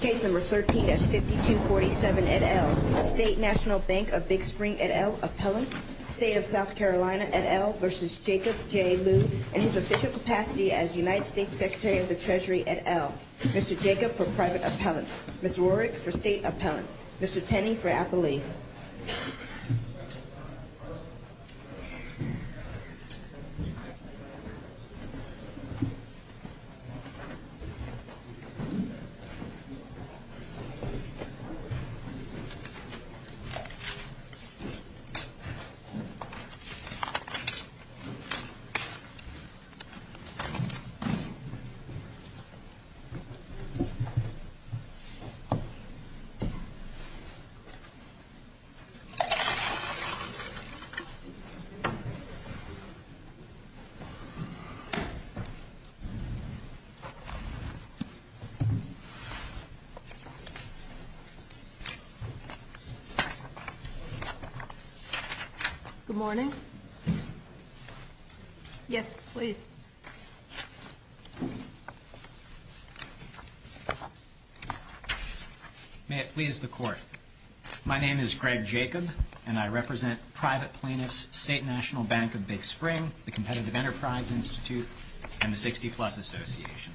Case No. 13-5247 et al. State National Bank of Big Spring et al. Appellant. State of South Carolina et al. v. Jacob J. Lew and his official capacity as United States Secretary of the Treasury et al. Mr. Jacob for Private Appellant. Ms. Rorick for State Appellant. Mr. Tenney for Appellee. Mr. Tenney for State Appellant. Good morning. Yes, please. May it please the Court. My name is Greg Jacob and I represent Private Plaintiffs, State National Bank of Big Spring, the Competitive Enterprise Institute and the Sixty Plus Association.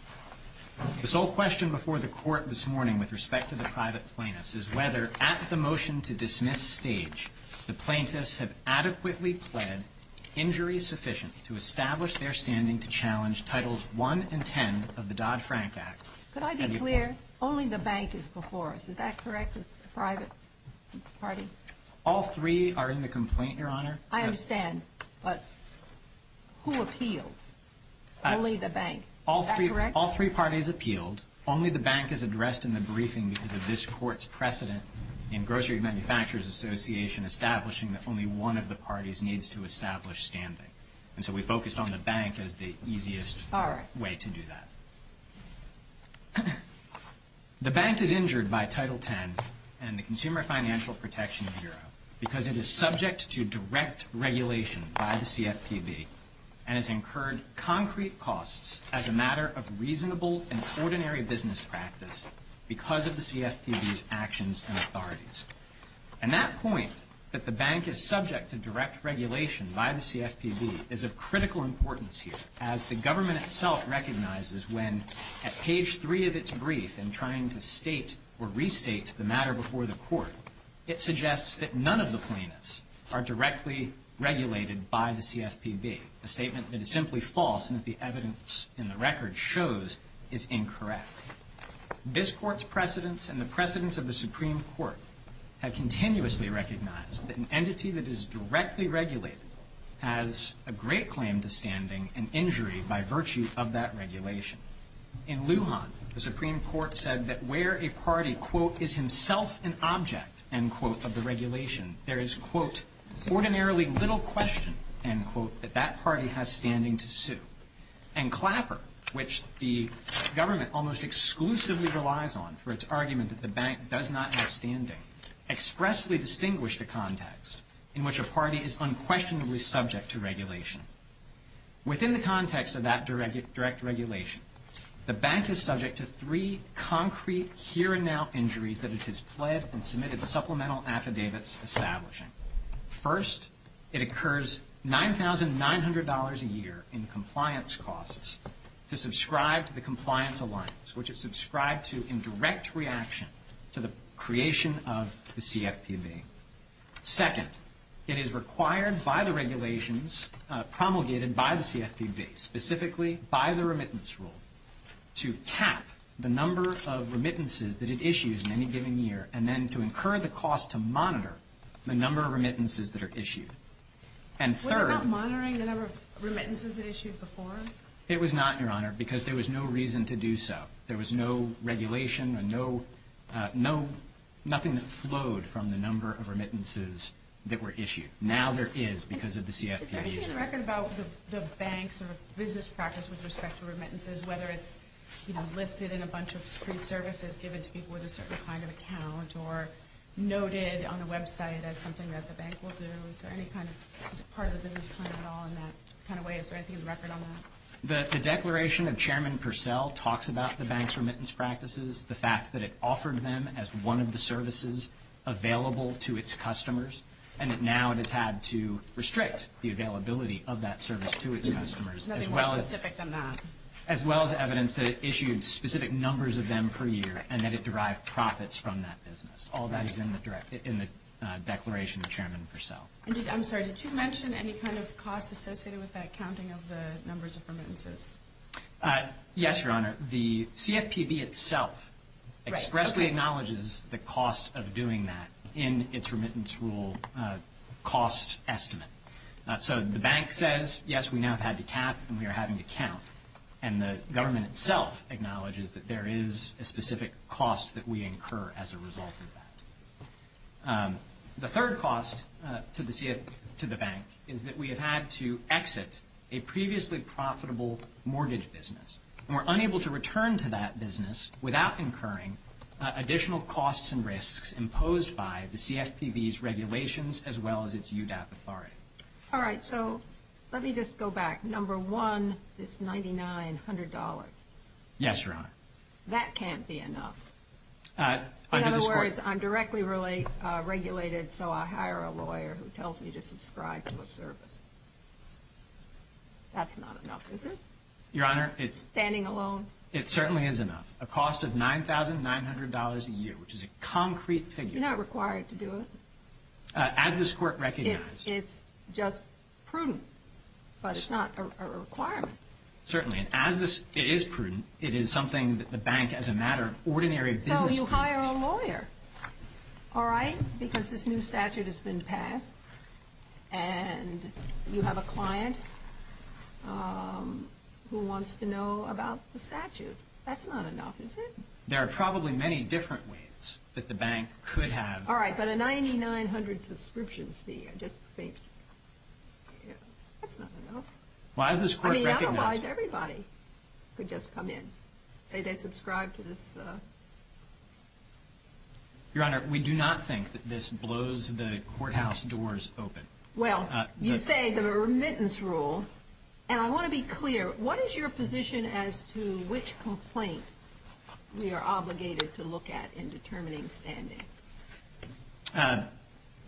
This whole question before the Court this morning with respect to the Private Plaintiffs is whether, at the motion to dismiss stage, the plaintiffs have adequately pled injury sufficient to establish their standing to challenge Titles I and X of the Dodd-Frank Act. Could I be clear? Only the bank is before us. Is that correct? It's the private party? All three are in the complaint, Your Honor. I understand, but who appeals? Only the bank. Is that correct? All three parties appealed. Only the bank is addressed in the briefing because of this Court's precedent in Grocery Manufacturers Association establishing that only one of the parties needs to establish standing. And so we focused on the bank as the easiest way to do that. The bank is injured by Title X and the Consumer Financial Protection Bureau because it is subject to direct regulation by the CFPB and has incurred concrete costs as a matter of reasonable and ordinary business practice because of the CFPB's actions and authorities. And that point that the bank is subject to direct regulation by the CFPB is of critical importance here as the government itself recognizes when at page three of its brief in trying to state or restate the matter before the Court, it suggests that none of the plaintiffs are directly regulated by the CFPB. The statement is simply false since the evidence in the record shows it's incorrect. This Court's precedents and the precedents of the Supreme Court have continuously recognized that an entity that is directly regulated has a great claim to standing and injury by virtue of that regulation. In Lujan, the Supreme Court said that where a party, quote, is himself an object, end quote, of the regulation, there is, quote, ordinarily little question, end quote, that that party has standing to sue. And Clapper, which the government almost exclusively relies on for its argument that the bank does not have standing, expressly distinguished a context in which a party is unquestionably subject to regulation. Within the context of that direct regulation, the bank is subject to three concrete here and now injuries that it has pled and submitted supplemental affidavits establishing. First, it incurs $9,900 a year in compliance costs to subscribe to the compliance alliance, which it subscribes to in direct reaction to the creation of the CFPB. Second, it is required by the regulations promulgated by the CFPB, specifically by the remittance rule, to tap the number of remittances that it issues in any given year and then to incur the cost to monitor the number of remittances that are issued. And third... Was it not monitoring the number of remittances issued before? It was not, Your Honor, because there was no reason to do so. There was no regulation and nothing flowed from the number of remittances that were issued. Now there is because of the CFPB. Do you have any record about the bank's business practice with respect to remittances, whether it's listed in a bunch of free services given to people with a certain kind of account or noted on a website as something that the bank will do? Is there any kind of part of the business plan at all in that kind of way? Is there any record on that? The declaration of Chairman Purcell talks about the bank's remittance practices, the fact that it offered them as one of the services available to its customers, and that now it has had to restrict the availability of that service to its customers, as well as... Nothing more specific than that. ...as well as evidence that it issued specific numbers of them per year and that it derived profits from that business. All that is in the declaration of Chairman Purcell. I'm sorry. Did you mention any kind of cost associated with that counting of the numbers of remittances? Yes, Your Honor. The CFPB itself expressly acknowledges the cost of doing that in its remittance rule cost estimate. So the bank says, yes, we now have had to cap and we are having to count, and the government itself acknowledges that there is a specific cost that we incur as a result of that. The third cost to the bank is that we have had to exit a previously profitable mortgage business, and we're unable to return to that business without incurring additional costs and risks imposed by the CFPB's regulations, as well as its UDAP authority. All right. So let me just go back. Number one is $9,900. Yes, Your Honor. That can't be enough. In other words, I'm directly regulated, so I hire a lawyer who tells me to subscribe to a service. That's not enough, is it? Your Honor, it certainly is enough, a cost of $9,900 a year, which is a concrete figure. You're not required to do it? As this Court recognizes. It's just prudent, but it's not a requirement. Certainly. It is prudent. It is something that the bank, as a matter of ordinary business. So you hire a lawyer, all right, because this new statute has been passed, and you have a client who wants to know about the statute. That's not enough, is it? There are probably many different ways that the bank could have. All right, but a $9,900 subscription fee, I just think, that's not enough. I mean, otherwise everybody could just come in. They'd just subscribe to this. Your Honor, we do not think that this blows the courthouse doors open. Well, you say the remittance rule, and I want to be clear, what is your position as to which complaint we are obligated to look at in determining standing?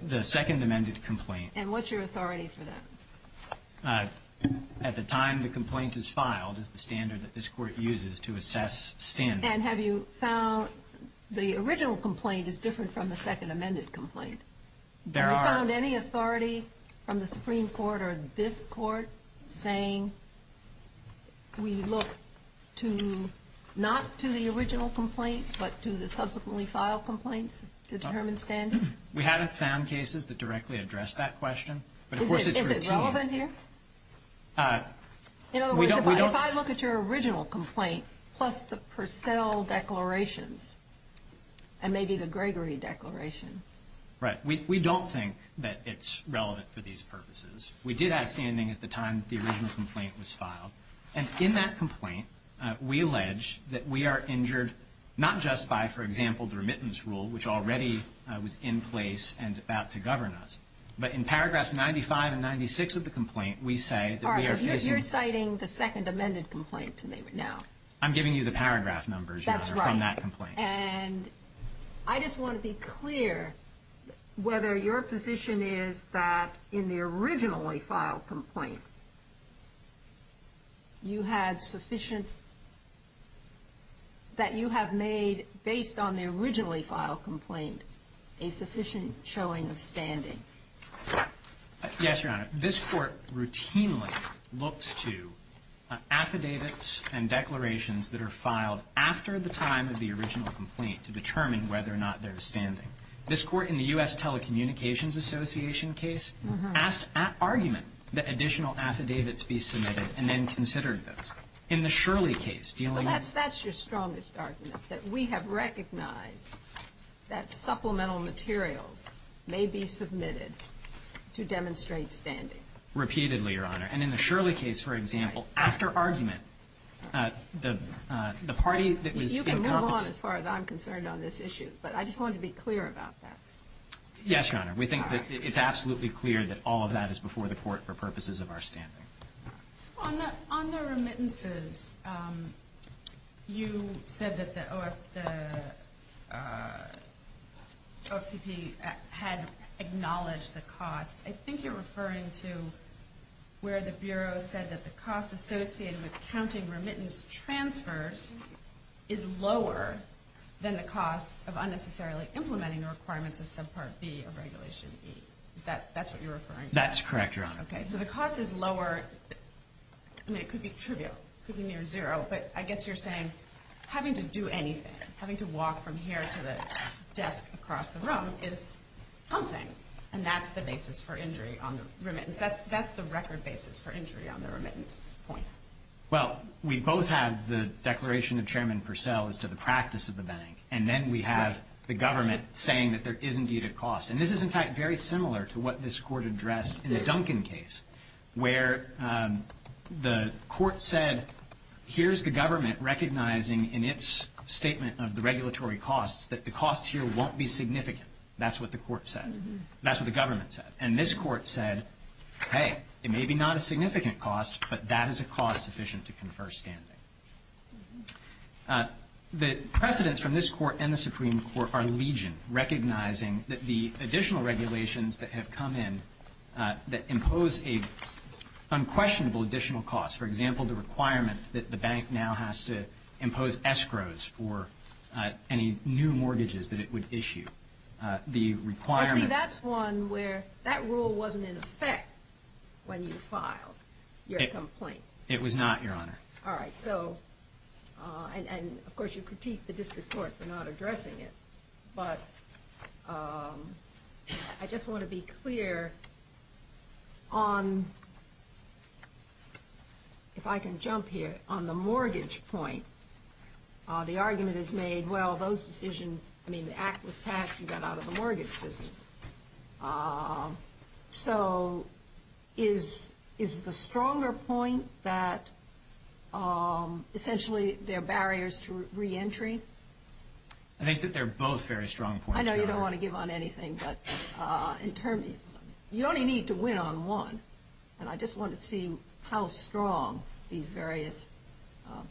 The second amended complaint. And what's your authority for that? At the time the complaint is filed, it's the standard that this Court uses to assess standing. And have you found the original complaint is different from the second amended complaint? There are. Have you found any authority from the Supreme Court or this Court saying we look not to the original complaint, but to the subsequently filed complaint to determine standing? We haven't found cases that directly address that question. Is it relevant here? In other words, if I look at your original complaint plus the Purcell declaration and maybe the Gregory declaration. Right. We don't think that it's relevant for these purposes. We did ask standing at the time the original complaint was filed. And in that complaint, we allege that we are injured not just by, for example, the remittance rule, which already was in place and is about to govern us. But in paragraphs 95 and 96 of the complaint, we say that we are facing... All right. So you're citing the second amended complaint to me now. I'm giving you the paragraph numbers from that complaint. That's right. And I just want to be clear whether your position is that in the originally filed complaint, you had sufficient... that you have made based on the originally filed complaint a sufficient showing of standing? Yes, Your Honor. This Court routinely looks to affidavits and declarations that are filed after the time of the original complaint to determine whether or not there is standing. This Court in the U.S. Telecommunications Association case asked at argument that additional affidavits be submitted and then considered those. In the Shirley case, dealing with... That's your strongest argument, that we have recognized that supplemental materials may be submitted to demonstrate standing. Repeatedly, Your Honor. And in the Shirley case, for example, after argument, the party that was... You can move on as far as I'm concerned on this issue. But I just wanted to be clear about that. Yes, Your Honor. We think that it's absolutely clear that all of that is before the Court for purposes of our standing. On the remittances, you said that the OCP had acknowledged the cost. I think you're referring to where the Bureau said that the cost associated with counting remittance transfers is lower than the cost of unnecessarily implementing the requirements of Subpart B of Regulation B. Is that what you're referring to? That's correct, Your Honor. Okay. So the cost is lower. I mean, it could be trivial. It could be near zero. But I guess you're saying having to do anything, having to walk from here to the desk across the room is something. And that's the basis for injury on the remittance. That's the record basis for injury on the remittance point. Well, we both have the declaration the Chairman Purcell as to the practice of the bank. And then we have the government saying that there is indeed a cost. And this is, in fact, very similar to what this Court addressed in the Duncan case where the Court said, here's the government recognizing in its statement of the regulatory costs that the cost here won't be significant. That's what the Court said. That's what the government said. And this Court said, hey, it may be not a significant cost, but that is a cost sufficient to confer standing. The precedents from this Court and the Supreme Court are legion, recognizing that the additional regulations that have come in that impose an unquestionable additional cost, for example, the requirement that the bank now has to impose escrows for any new mortgages that it would issue. That's one where that rule wasn't in effect when you filed your complaint. It was not, Your Honor. All right. So, and, of course, you critique the District Court for not addressing it. But I just want to be clear on, if I can jump here, on the mortgage point. The argument is made, well, those decisions, I mean, the act was passed and got out of the mortgage system. So is the stronger point that, essentially, there are barriers to reentry? I think that they're both very strong points. I know you don't want to give on anything, but in terms of, you only need to win on one. And I just want to see how strong these various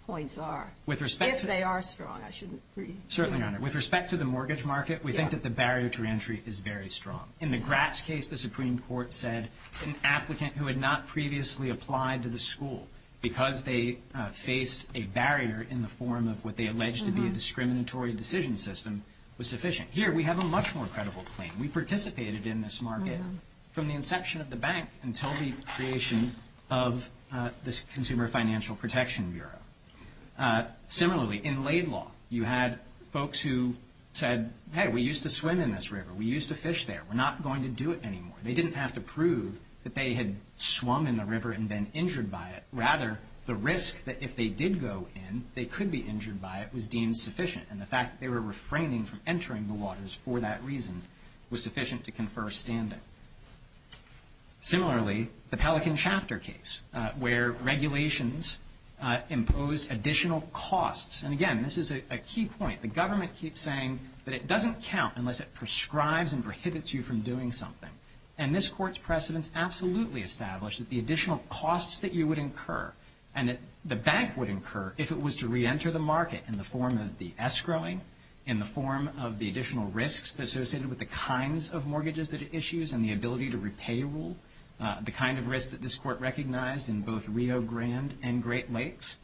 points are. If they are strong, I should agree. Certainly, Your Honor. With respect to the mortgage market, we think that the barrier to reentry is very strong. In the Gratz case, the Supreme Court said an applicant who had not previously applied to the school because they faced a barrier in the form of what they alleged to be a discriminatory decision system was sufficient. Here, we have a much more credible claim. We participated in this market from the inception of the bank until the creation of the Consumer Financial Protection Bureau. Similarly, in Laidlaw, you had folks who said, hey, we used to swim in this river. We used to fish there. We're not going to do it anymore. They didn't have to prove that they had swum in the river and been injured by it. Rather, the risk that if they did go in, they could be injured by it was deemed sufficient. And the fact that they were refraining from entering the waters for that reason was sufficient to confer standing. Similarly, the Pelican Chapter case, where regulations impose additional costs. And again, this is a key point. The government keeps saying that it doesn't count unless it prescribes and prohibits you from doing something. And this court's precedents absolutely establish that the additional costs that you would incur and that the bank would incur if it was to reenter the market in the form of the escrowing, in the form of the additional risks associated with the escrowing, the ability to repay a rule, the kind of risk that this court recognized in both Rio Grande and Great Lakes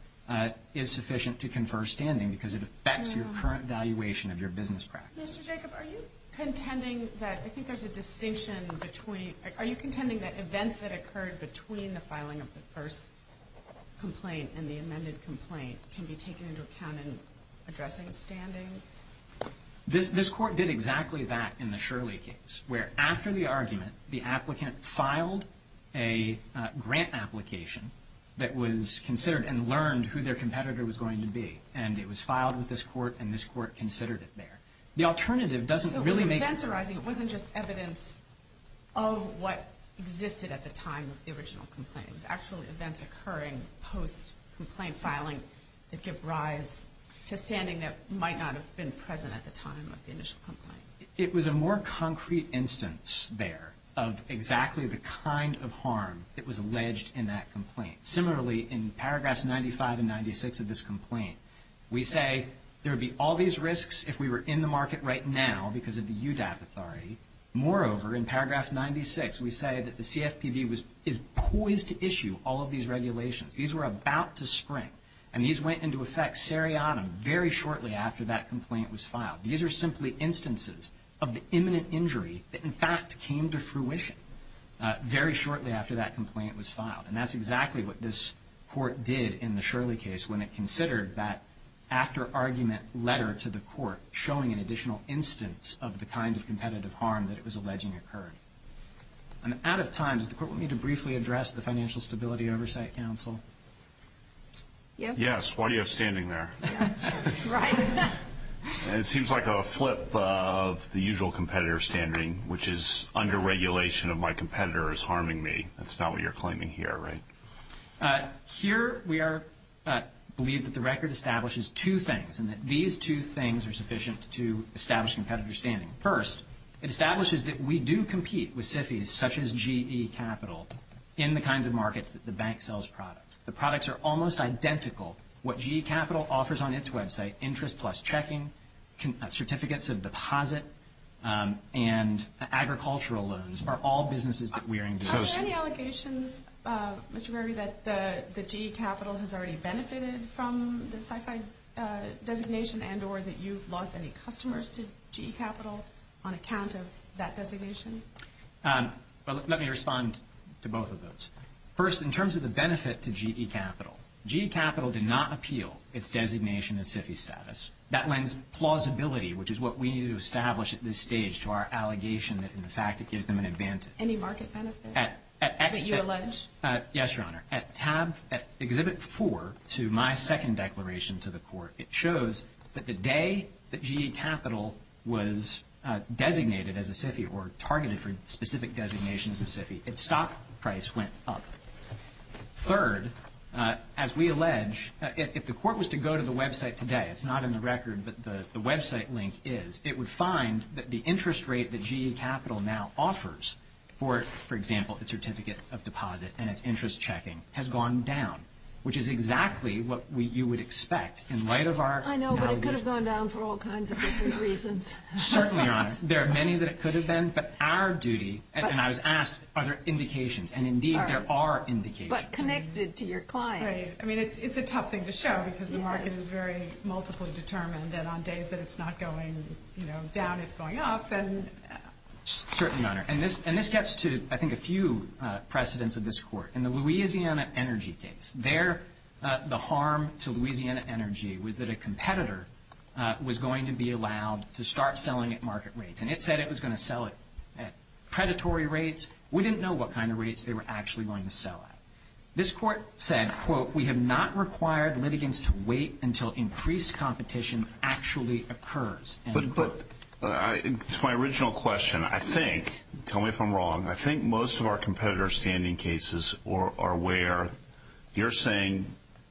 is sufficient to confer standing because it affects your current valuation of your business practice. Mr. Jacob, are you contending that I think there's a distinction between – are you contending that events that occurred between the filing of the first complaint and the amended complaint can be taken into account in addressing standing? This court did exactly that in the Shirley case, where after the argument, the applicant filed a grant application that was considered and learned who their competitor was going to be. And it was filed with this court, and this court considered it there. The alternative doesn't really make sense. So the events arising wasn't just evidence of what existed at the time of the original complaint. It was actually events occurring post-complaint filing that just rise to standing and that might not have been present at the time of the initial complaint. It was a more concrete instance there of exactly the kind of harm that was alleged in that complaint. Similarly, in paragraphs 95 and 96 of this complaint, we say there would be all these risks if we were in the market right now because of the UDAP authority. Moreover, in paragraph 96, we say that the CFPB is poised to issue all of these regulations. These were about to spring. And these went into effect seriatim very shortly after that complaint was filed. These are simply instances of the imminent injury that, in fact, came to fruition very shortly after that complaint was filed. And that's exactly what this court did in the Shirley case when it considered that after-argument letter to the court showing an additional instance of the kind of competitive harm that it was alleging occurred. And out of time, the court wanted me to briefly address the Financial Stability Oversight Council. Yes. Why are you standing there? It seems like a flip of the usual competitor standing, which is under regulation of my competitor is harming me. That's not what you're claiming here, right? Here we believe that the record establishes two things, and that these two things are sufficient to establish competitor standing. First, it establishes that we do compete with CFPBs such as GE Capital in the kinds of markets that the bank sells products. The products are almost identical. What GE Capital offers on its website, interest plus checking, certificates of deposit, and agricultural loans, are all businesses that we are in disposal. Are there any allegations that you worry that the GE Capital has already benefited from the CIFI designation and or that you've lost any customers to GE Capital on account of that designation? Let me respond to both of those. First, in terms of the benefit to GE Capital, GE Capital did not appeal its designation and CFI status. That lends plausibility, which is what we need to establish at this stage, to our allegation that in fact it gives them an advantage. Any market benefit that you allege? Yes, Your Honor. Second, at Tab, at Exhibit 4, to my second declaration to the Court, it shows that the day that GE Capital was designated as a CIFI or targeted for specific designations of CIFI, its stock price went up. Third, as we allege, if the Court was to go to the website today, it's not in the record, but the website link is, it would find that the interest rate that GE Capital now offers for, for example, the Certificate of Deposit and its interest checking has gone down, which is exactly what you would expect in light of our... I know, but it could have gone down for all kinds of different reasons. Certainly, Your Honor. There are many that it could have been, but our duty has asked are there indications, and indeed there are indications. But connected to your client. Right. I mean, it's a tough thing to show because the market is very multiple determined and on days that it's not going, you know, down, it's going up and... Certainly, Your Honor. And this gets to, I think, a few precedents of this Court. In the Louisiana Energy case, there the harm to Louisiana Energy was that a competitor was going to be allowed to start selling at market rates, and it said it was going to sell at predatory rates. We didn't know what kind of rates they were actually going to sell at. This Court said, quote, we have not required litigants to wait until increased competition actually occurs. But to my original question, I think, tell me if I'm wrong, I think most of our competitor standing cases are where you're saying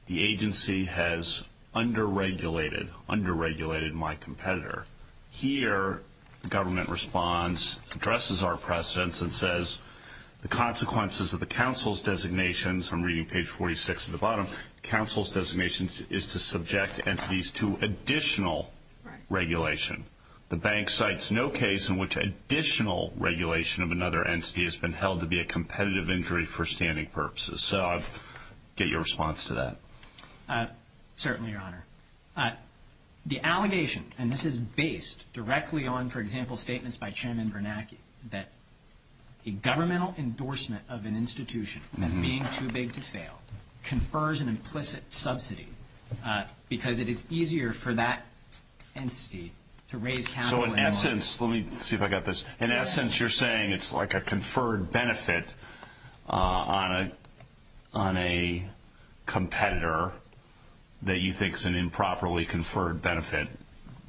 the agency has under-regulated, under-regulated my competitor. Here, the government responds, addresses our precedents, and says the consequences of the counsel's designations, I'm reading page 46 at the bottom, counsel's designations is to subject entities to additional regulation. The bank cites no case in which additional regulation of another entity has been held to be a competitive injury for standing purposes. So I'll get your response to that. Certainly, Your Honor. The allegation, and this is based directly on, for example, statements by Chairman Bernanke that a governmental endorsement of an institution that seems too big to fail confers an implicit subsidy because it is easier for that entity to raise counsel. So in essence, let me see if I got this. In essence, you're saying it's like a conferred benefit on a competitor that you think is an improperly conferred benefit,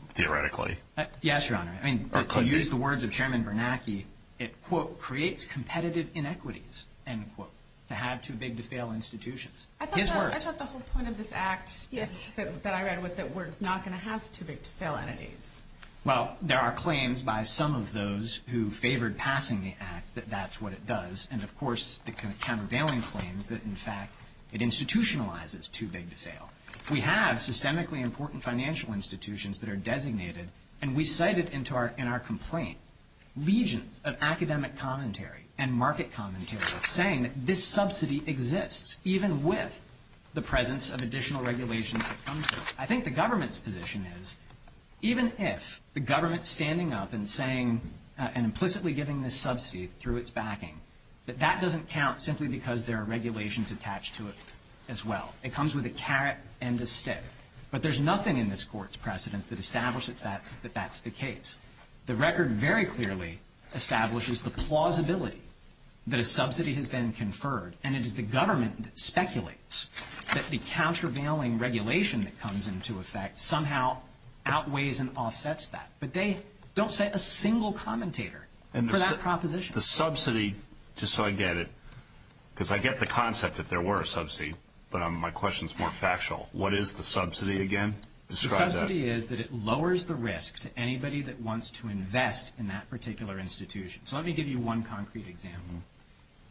theoretically. Yes, Your Honor. I mean, to use the words of Chairman Bernanke, it, quote, creates competitive inequities, end quote, to have too big to fail institutions. I thought the whole point of this Act that I read was that we're not going to have too big to fail entities. Well, there are claims by some of those who favored passing the Act that that's what it does, and, of course, the countervailing claims that, in fact, it institutionalizes too big to fail. We have systemically important financial institutions that are designated, and we cited in our complaint legions of academic commentary and market commentary saying that this subsidy exists even with the presence of additional regulations that come through. I think the government's position is even if the government's standing up and saying and implicitly giving this subsidy through its backing, that that doesn't count simply because there are regulations attached to it as well. It comes with a carrot and a stick. But there's nothing in this court's precedent that establishes that that's the case. The record very clearly establishes the plausibility that a subsidy has been conferred, and it is the government that speculates that the countervailing regulation that comes into effect somehow outweighs and offsets that, but they don't set a single commentator for that proposition. The subsidy, just so I get it, because I get the concept that there were a subsidy, but my question's more factual. What is the subsidy again? The subsidy is that it lowers the risk to anybody that wants to invest in that particular institution. So let me give you one concrete example.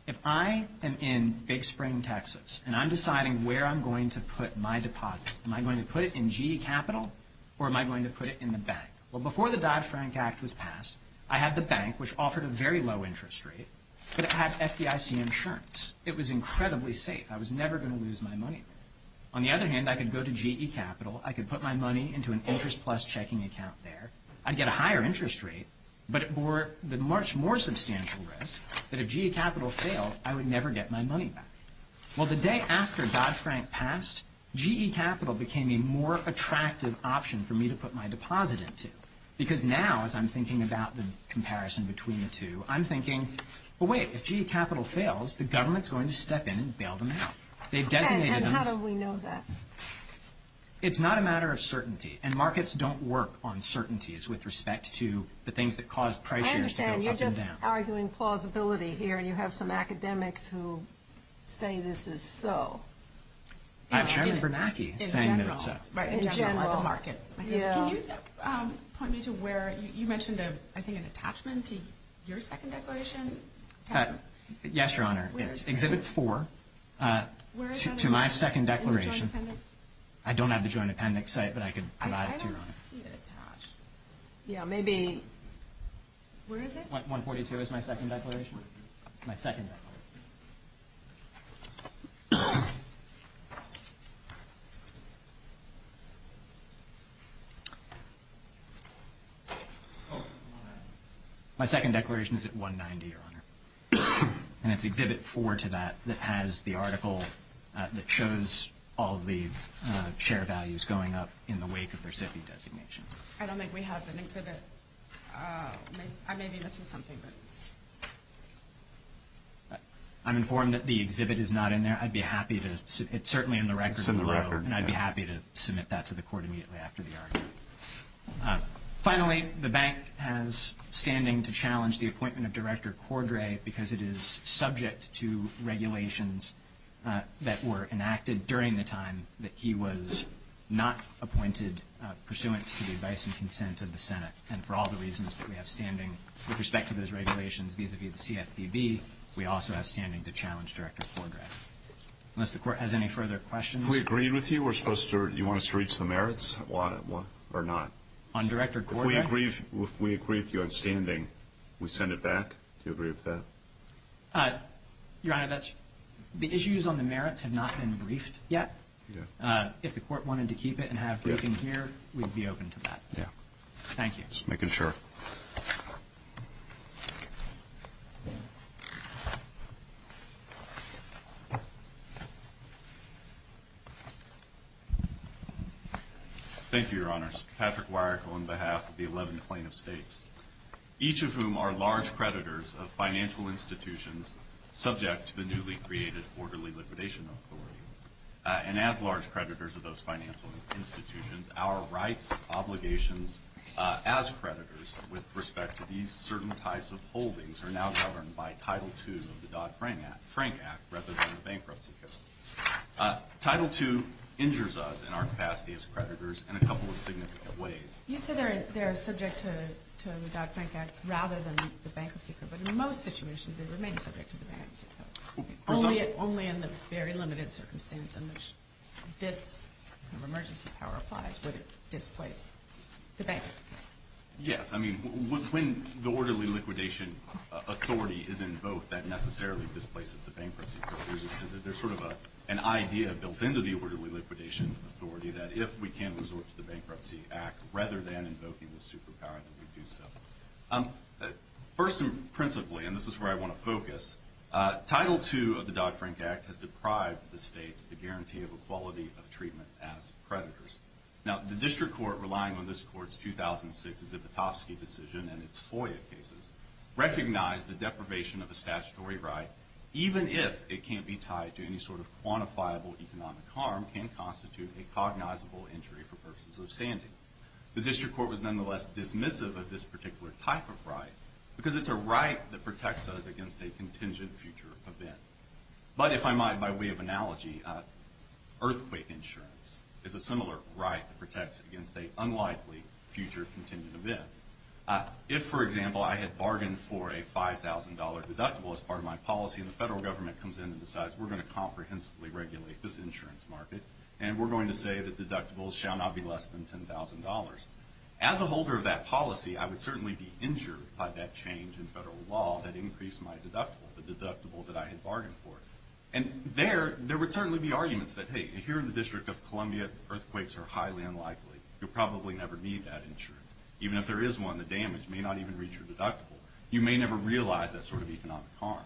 If I am in Big Spring, Texas, and I'm deciding where I'm going to put my deposit, am I going to put it in GE Capital or am I going to put it in the bank? Well, before the Bad Frank Act was passed, I had the bank, which offered a very low interest rate, but it had FDIC insurance. It was incredibly safe. I was never going to lose my money. On the other hand, I could go to GE Capital. I could put my money into an interest-plus checking account there. I'd get a higher interest rate, but at a much more substantial risk that if GE Capital failed, I would never get my money back. Well, the day after Bad Frank passed, GE Capital became a more attractive option for me to put my deposit into because now, as I'm thinking about the comparison between the two, I'm thinking, well, wait, if GE Capital fails, the government's going to step in and bail them out. They've decimated them. And how do we know that? It's not a matter of certainty, and markets don't work on certainties with respect to the things that cause pricing to go up and down. I understand. You're just arguing plausibility here, and you have some academics who say this is so. I'm Chairman Bernanke, saying that it's so. In general. In general. Can you point me to where you mentioned, I think, an attachment to your second declaration? Yes, Your Honor. Exhibit 4 to my second declaration. I don't have the joint appendix, but I can provide it to you, Your Honor. Yeah, maybe. Where is it? 142 is my second declaration. My second declaration. My second declaration is at 190, Your Honor. And it's Exhibit 4 to that that has the article that shows all the share values going up in the wake of receipt designation. I don't think we have an exhibit. I may be missing something. I'm informed that the exhibit is not in there. I'd be happy to, it's certainly in the record. It's in the record. And I'd be happy to submit that to the Court immediately after the argument. Finally, the bank has standing to challenge the appointment of Director Cordray because it is subject to regulations that were enacted during the time that he was not appointed pursuant to the advice and consent of the Senate. And for all the reasons that we have standing with respect to those regulations vis-à-vis the CFPB, we also have standing to challenge Director Cordray. Unless the Court has any further questions. If we agree with you, you want us to reach the merits or not? On Director Cordray? If we agree with you on standing, we send it back. Do you agree with that? Your Honor, the issues on the merits have not been briefed yet. If the Court wanted to keep it and have briefing here, we'd be open to that. Thank you. Just making sure. Thank you, Your Honor. Patrick Weirich on behalf of the 11 plaintiffs states. Each of whom are large creditors of financial institutions subject to the newly created orderly liquidation authority. And as large creditors of those financial institutions, our rights, obligations as creditors with respect to these certain types of holdings are now governed by Title II of the Dodd-Frank Act rather than bankruptcy. Title II injures us in our capacity as creditors in a couple of significant ways. You said they're subject to the Dodd-Frank Act rather than the bankruptcy. But in most situations, they remain subject to the bankruptcy. Only in the very limited circumstances in which this emergency power applies would it displace the bankruptcy. Yes. I mean, when the orderly liquidation authority is invoked, that necessarily displaces the bankruptcy. There's sort of an idea built into the orderly liquidation authority that if we can't resort to the bankruptcy act rather than invoking the superpower, then we do so. First and principally, and this is where I want to focus, Title II of the Dodd-Frank Act has deprived the states the guarantee of equality of treatment as creditors. Now, the district court, relying on this court's 2006 Zivotofsky decision and its FOIA cases, recognized the deprivation of a statutory right, even if it can't be tied to any sort of quantifiable economic harm, can constitute a cognizable injury for persons of standing. The district court was nonetheless dismissive of this particular type of right because it's a right that protects us against a contingent future event. But if I might, by way of analogy, earthquake insurance is a similar right that protects against a unlikely future contingent event. If, for example, I had bargained for a $5,000 deductible as part of my policy and the federal government comes in and decides we're going to comprehensively regulate this insurance market and we're going to say that deductibles shall not be less than $10,000. As a holder of that policy, I would certainly be injured by that change in federal law that increased my deductible, the deductible that I had bargained for. And there, there would certainly be arguments that, hey, if you're in the District of Columbia, earthquakes are highly unlikely. You'll probably never need that insurance. Even if there is one, the damage may not even reach your deductible. You may never realize that sort of economic harm.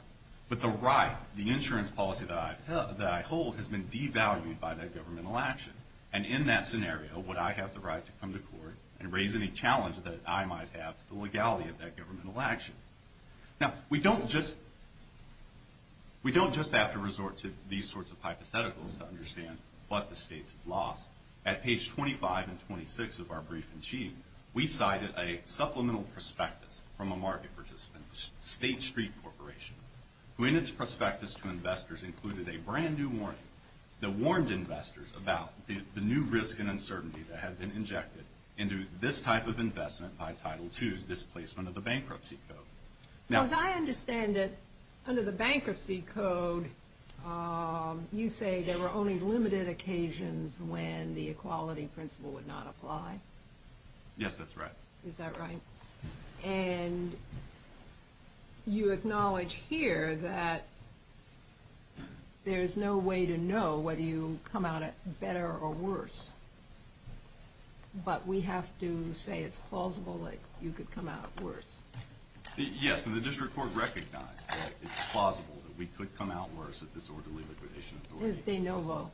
But the right, the insurance policy that I hold, has been devalued by that governmental action. And in that scenario, would I have the right to come to court and raise any challenge that I might have to the legality of that governmental action? Now, we don't just, we don't just have to resort to these sorts of hypotheticals to understand what the state has lost. At page 25 and 26 of our briefing sheet, we cited a supplemental prospectus from a market participant, State Street Corporation, who in its prospectus to investors included a brand new warning that warned investors about the new risk and uncertainty that had been injected into this type of investment by Title II's displacement of the bankruptcy code. Now, as I understand it, under the bankruptcy code, you say there were only limited occasions when the equality principle would not apply. Yes, that's right. Is that right? And you acknowledge here that there's no way to know whether you come out better or worse. But we have to say it's plausible that you could come out worse. Yes, and the district court recognized that it's plausible that we could come out worse at this orderly liquidation authority. As they know well.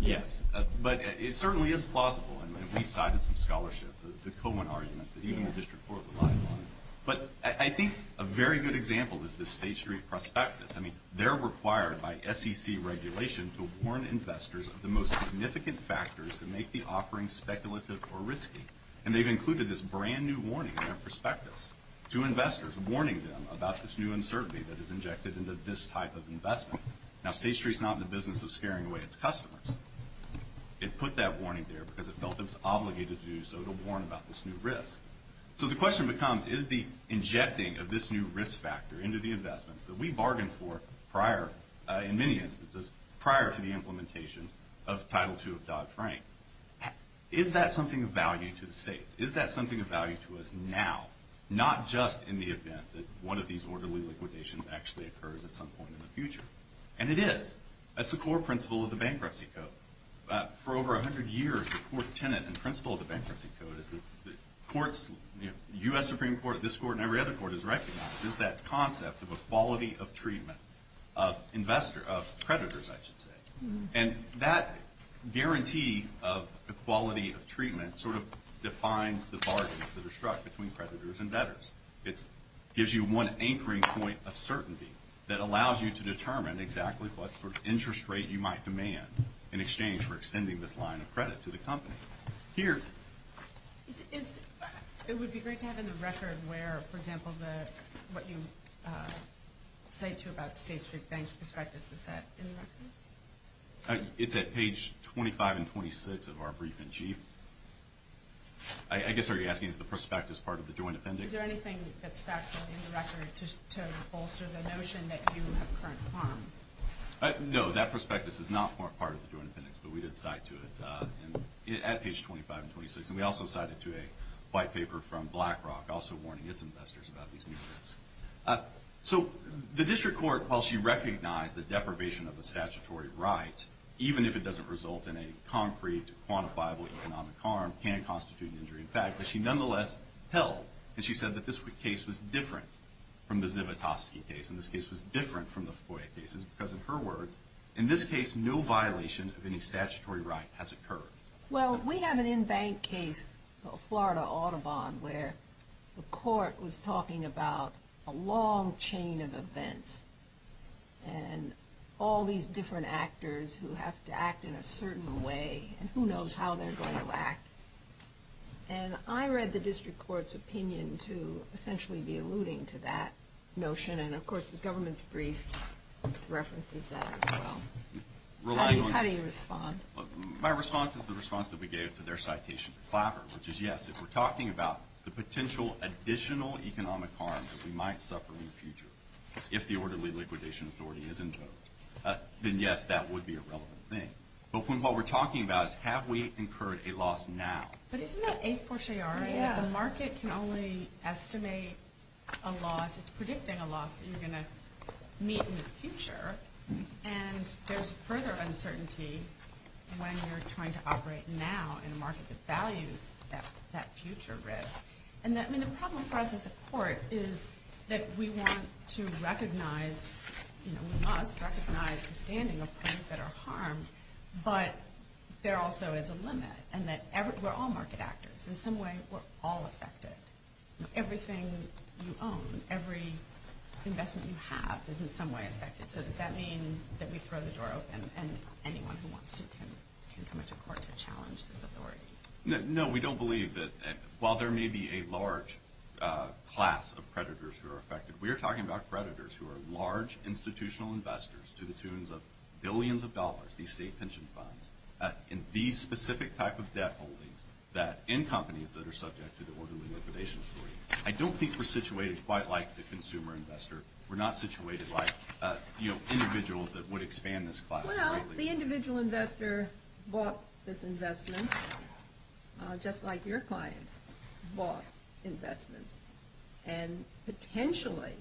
Yes. But it certainly is plausible, and we cited some scholarship, the Cohen argument, that even the district court would like this. But I think a very good example is the State Street prospectus. I mean, they're required by SEC regulation to warn investors of the most significant factors that may be offering speculative or risky. And they've included this brand new warning in their prospectus to investors, warning them about this new uncertainty that is injected into this type of investment. Now, State Street's not in the business of scaring away its customers. It put that warning there because it felt it was obligated to do so to warn about this new risk. So the question becomes, is the injecting of this new risk factor into the investment that we bargained for in many instances prior to the implementation of Title II of Dodd-Frank, is that something of value to the state? Is that something of value to us now? Not just in the event that one of these orderly liquidations actually occurs at some point in the future. And it is. That's the core principle of the Bankruptcy Code. For over 100 years, the core tenet and principle of the Bankruptcy Code is that courts, U.S. Supreme Court, this court, and every other court, has recognized that concept of a quality of treatment of creditors. And that guarantee of the quality of treatment sort of defines the bargain that is struck between creditors and debtors. It gives you one anchoring point of certainty that allows you to determine exactly what sort of interest rate you might demand in exchange for extending this line of credit to the company. Here. It would be great to have in the record where, for example, what you say to about State Street Banks' prospectus, is that in the record? It's at page 25 and 26 of our brief in chief. I guess what you're asking is the prospectus part of the joint appendix. Is there anything that's actually in the record just to bolster the notion that you're in that current realm? No, that prospectus is not part of the joint appendix, but we did cite to it at page 25 and 26. And we also cited to a white paper from BlackRock, also warning its investors about these metrics. So the district court, while she recognized the deprivation of a statutory right, even if it doesn't result in a concrete quantifiable economic harm, can constitute an injury in fact, but she nonetheless held, and she said that this case was different from the Zivotofsky case, because in her words, in this case, no violation of any statutory right has occurred. Well, we have an in-bank case, Florida Audubon, where the court was talking about a long chain of events and all these different actors who have to act in a certain way, and who knows how they're going to act. And I read the district court's opinion to essentially be alluding to that notion, and of course the government's brief references that as well. How do you respond? My response is the response that we gave to their citation, which is yes, if we're talking about the potential additional economic harm that we might suffer in the future, if the orderly liquidation authority is in place, then yes, that would be a relevant thing. But what we're talking about is have we incurred a loss now? But isn't that a fortiori? Yeah. The market can only estimate a loss, it's predicting a loss that you're going to meet in the future, and there's further uncertainty when you're trying to operate now in a market that values that future risk. And the problem for us as a court is that we want to recognize, we must recognize the standing of things that are harmed, but there also is a limit, and that we're all market actors, in some way we're all affected. Everything you own, every investment you have is in some way affected. So does that mean that we throw the door open and anyone who wants to can come to court to challenge the authority? No, we don't believe that. While there may be a large class of creditors who are affected, we are talking about creditors who are large institutional investors to the tunes of billions of dollars, these state pension funds, in these specific type of debt holdings, that in companies that are subject to the orderly liquidation authority. I don't think we're situated quite like the consumer investor. We're not situated like individuals that would expand this class. Well, the individual investor bought this investment, just like your client bought investments, and potentially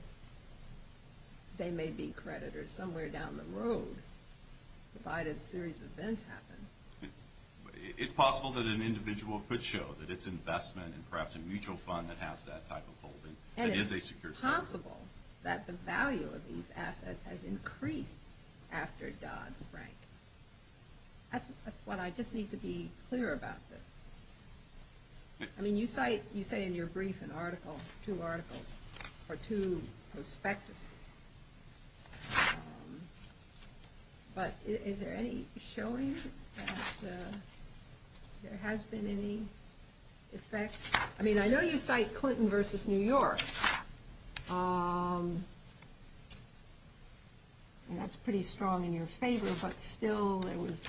they may be creditors somewhere down the road, provided a series of events happen. It's possible that an individual could show that it's an investment, perhaps a mutual fund that has that type of holding. And it's possible that the value of these assets has increased after Dodd-Frank. That's what I just need to be clear about this. I mean, you cite, you say in your brief, an article, two articles, or two perspectives. But is there any showing that there has been any effect? I mean, I know you cite Clinton versus New York. That's pretty strong in your favor, but still, there was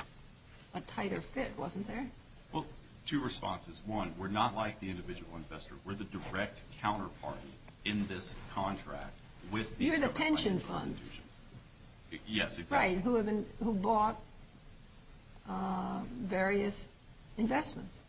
a tighter fit, wasn't there? Well, two responses. One, we're not like the individual investor. We're the direct counterparty in this contract. You're the pension fund. Yes. Right, who bought various investments.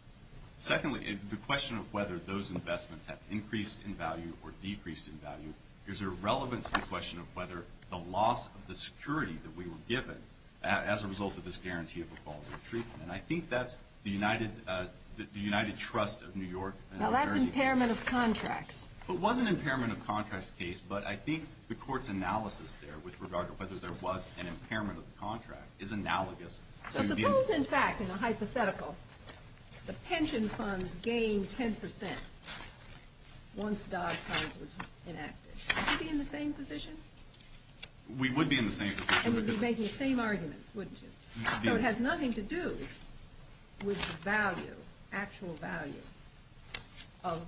Secondly, the question of whether those investments have increased in value or decreased in value, is irrelevant to the question of whether the loss of the security that we were given, as a result of this guarantee of performance or treatment. And I think that's the United Trust of New York. Now, that's impairment of contracts. It was an impairment of contracts case, but I think the court's analysis there with regard to whether there was an impairment of the contract is analogous. So suppose, in fact, in a hypothetical, the pension funds gained 10% once Dodd-Frank was enacted. Would we be in the same position? We would be in the same position. And we'd be making the same arguments, wouldn't you? So it has nothing to do with the value, actual value, of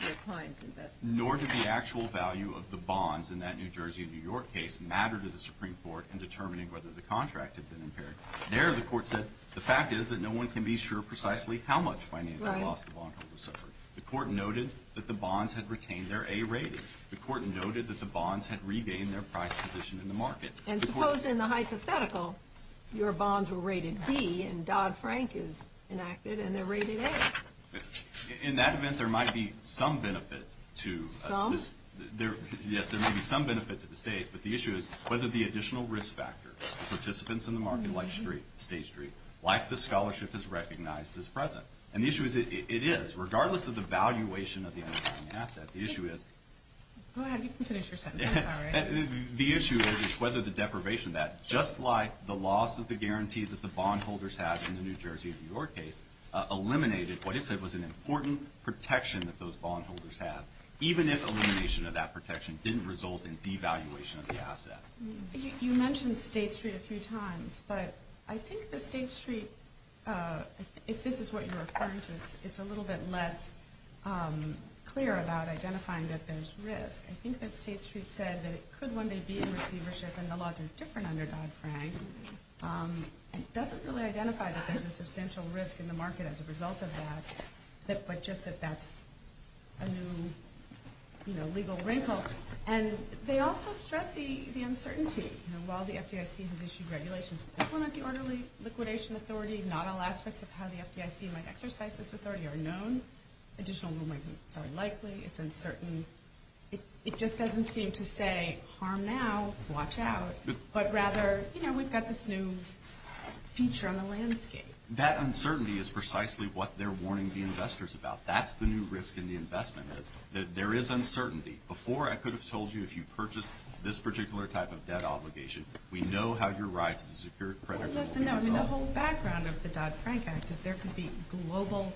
the client's investment. Nor did the actual value of the bonds in that New Jersey and New York case matter to the Supreme Court in determining whether the contract had been impaired. There, the court said, the fact is that no one can be sure precisely how much financial loss the bondholders suffered. The court noted that the bonds had retained their A rating. The court noted that the bonds had regained their price position in the market. And suppose, in the hypothetical, your bonds were rated B, and Dodd-Frank is enacted, and they're rated A. Some? Yes, there may be some benefit to the state, but the issue is whether the additional risk factors, the participants in the market like State Street, like the scholarship is recognized as present. And the issue is it is, regardless of the valuation of the investment asset. The issue is whether the deprivation of that, just like the loss of the guarantees that the bondholders have in the New Jersey and New York case, eliminated what it said was an important protection that those bondholders have. Even if elimination of that protection didn't result in devaluation of the asset. You mentioned State Street a few times, but I think that State Street, if this is what you're referring to, it's a little bit less clear about identifying that there's risk. I think that State Street said that it could one day be in receivership, and the law is different under Dodd-Frank. It doesn't really identify that there's a substantial risk in the market as a result of that, but just that that's a new legal wrinkle. And they also stress the uncertainty. While the FDIC has issued regulations to implement the orderly liquidation authority, not all aspects of how the FDIC might exercise this authority are known. Additional room is very likely. It's uncertain. It just doesn't seem to say, harm now, watch out. But rather, we've got this new feature on the landscape. That uncertainty is precisely what they're warning the investors about. That's the new risk in the investment. There is uncertainty. Before, I could have told you if you purchased this particular type of debt obligation, we know how you're right. The whole background of the Dodd-Frank Act is there could be global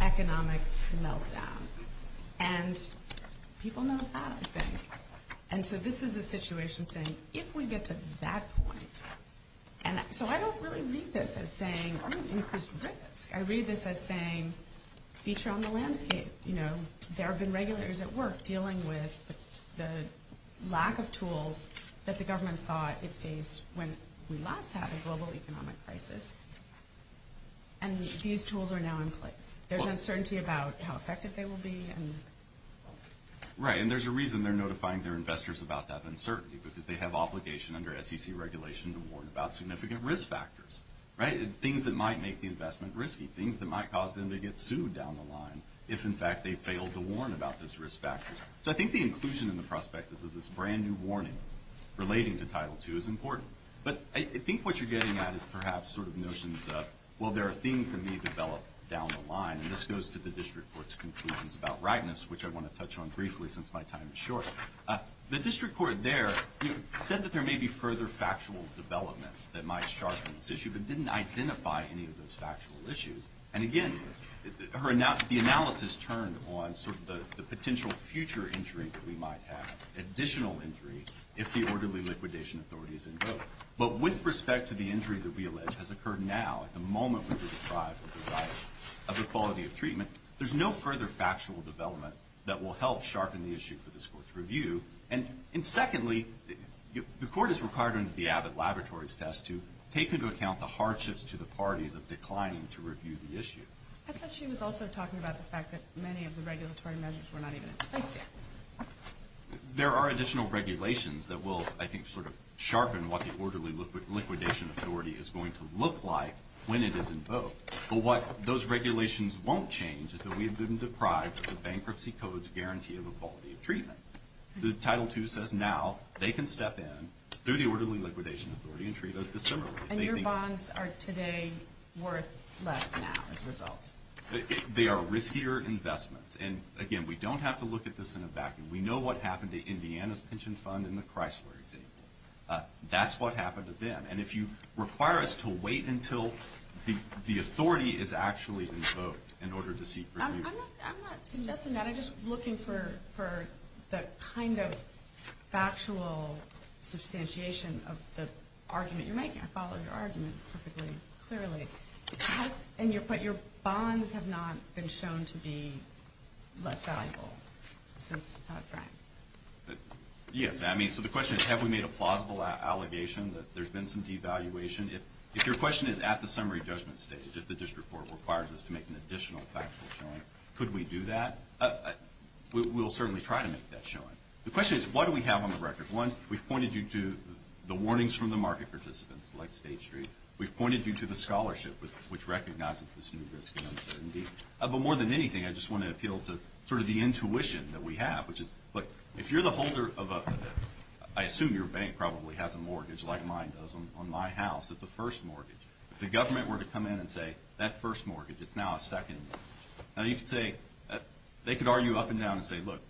economic meltdown. And people know that. And so this is a situation saying, if we get to that point, and so I don't really read this as saying, feature on the landscape. There have been regulators at work dealing with the lack of tools that the government thought it faced when we last had a global economic crisis. And these tools are now in place. There's uncertainty about how effective they will be. Right, and there's a reason they're notifying their investors about that uncertainty, because they have obligation under SEC regulations to warn about significant risk factors, right, things that might make the investment risky, things that might cause them to get sued down the line, if, in fact, they fail to warn about those risk factors. So I think the inclusion in the prospectus of this brand-new warning relating to Title II is important. But I think what you're getting at is perhaps sort of notions of, well, there are things that may develop down the line. And this goes to the district court's conclusions about rightness, which I want to touch on briefly since my time is short. The district court there said that there may be further factual development that might sharpen this issue, but it didn't identify any of those factual issues. And, again, the analysis turned on sort of the potential future injury that we might have, additional injury if the orderly liquidation authority is involved. But with respect to the injury that we live has occurred now, at the moment we're deprived of the quality of treatment, there's no further factual development that will help sharpen the issue for this court's review. And, secondly, the court is required under the Abbott Laboratories test to take into account the hardships to the parties of declining to review the issue. I thought she was also talking about the fact that many of the regulatory measures were not even in place. There are additional regulations that will, I think, sort of sharpen what the orderly liquidation authority is going to look like when it is invoked. But what those regulations won't change is that we have been deprived of the bankruptcy code's guarantee of a quality of treatment. The Title II says now they can step in through the orderly liquidation authority and treat those dissimilarly. And your bonds are today worth less now as a result. They are riskier investments. And, again, we don't have to look at this in a vacuum. We know what happened to Indiana's pension fund and the Chrysler deal. That's what happened to them. And if you require us to wait until the authority is actually invoked in order to seek review. I'm not doing nothing of that. I'm just looking for the kind of factual substantiation of the argument. You might have followed your argument perfectly clearly. But your bonds have not been shown to be less valuable since that time. Yes, I mean, so the question is, have we made a plausible allegation that there's been some devaluation? If your question is at the summary judgment stage, if the district court requires us to make an additional factual claim, could we do that? We'll certainly try to make that shown. The question is, what do we have on the record? One, we've pointed you to the warnings from the market participants, like State Street. We've pointed you to the scholarship, which recognizes this new risk and uncertainty. But more than anything, I just want to appeal to sort of the intuition that we have. But if you're the holder of a – I assume your bank probably has a mortgage like mine does on my house. It's a first mortgage. If the government were to come in and say, that first mortgage, it's now a second. Now, you could say – they could argue up and down and say, look,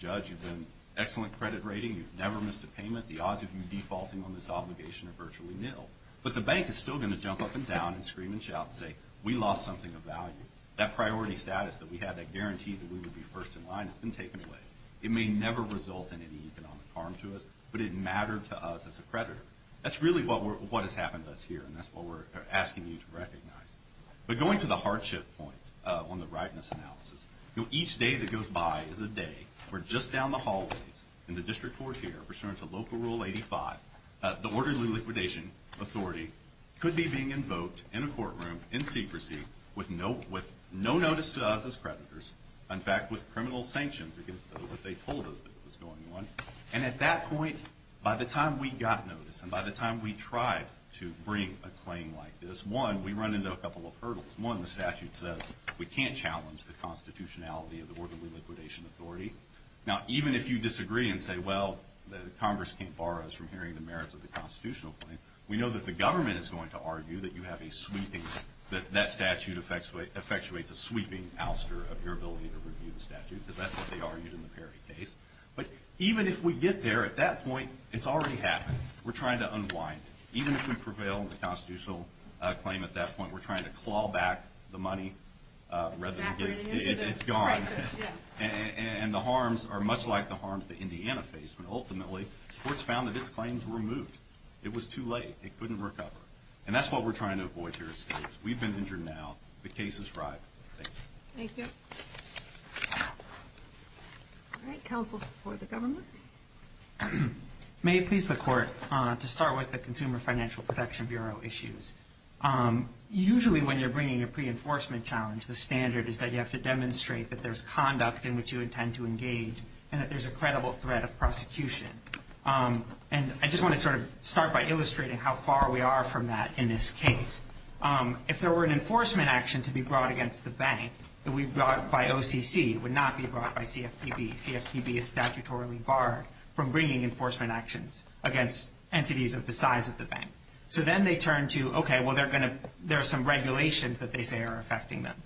Judge, you've done excellent credit rating. You've never missed a payment. The odds of you defaulting on this obligation are virtually nil. But the bank is still going to jump up and down and scream and shout and say, we lost something of value. That priority status that we had that guaranteed that we would be first in line has been taken away. It may never result in any economic harm to us, but it mattered to us as a predator. That's really what has happened to us here, and that's what we're asking you to recognize. But going to the hardship point on the rightness analysis, each day that goes by is a day where just down the hallways, in the district court here, pursuant to Local Rule 85, the orderly liquidation authority could be being invoked in a courtroom in secrecy with no notice to us as predators, in fact, with criminal sanctions against those that they told us it was going on. And at that point, by the time we got notice and by the time we tried to bring a claim like this, one, we run into a couple of hurdles. One, the statute says we can't challenge the constitutionality of the orderly liquidation authority. Now, even if you disagree and say, well, the Congress can't bar us from hearing the merits of the constitutional claim, we know that the government is going to argue that that statute effectuates a sweeping ouster of your ability to review the statute, because that's what they argued in the Perry case. But even if we get there, at that point, it's already happened. We're trying to unwind. Even if we prevail in the constitutional claim at that point, we're trying to claw back the money rather than get it. It's gone. And the harms are much like the harms that Indiana faced. But ultimately, the courts found that its claims were moved. It was too late. It couldn't recover. And that's what we're trying to avoid here. We've been injured now. The case is dry. Thank you. Thank you. All right. Counsel for the government. May it please the Court, to start with the Consumer Financial Protection Bureau issues. Usually when you're bringing a pre-enforcement challenge, the standard is that you have to demonstrate that there's conduct in which you intend to engage and that there's a credible threat of prosecution. And I just want to sort of start by illustrating how far we are from that in this case. If there were an enforcement action to be brought against the bank that we brought by OCC, it would not be brought by CFPB. CFPB is statutorily barred from bringing enforcement actions against entities of the size of the bank. So then they turn to, okay, well, there are some regulations that they say are affecting them.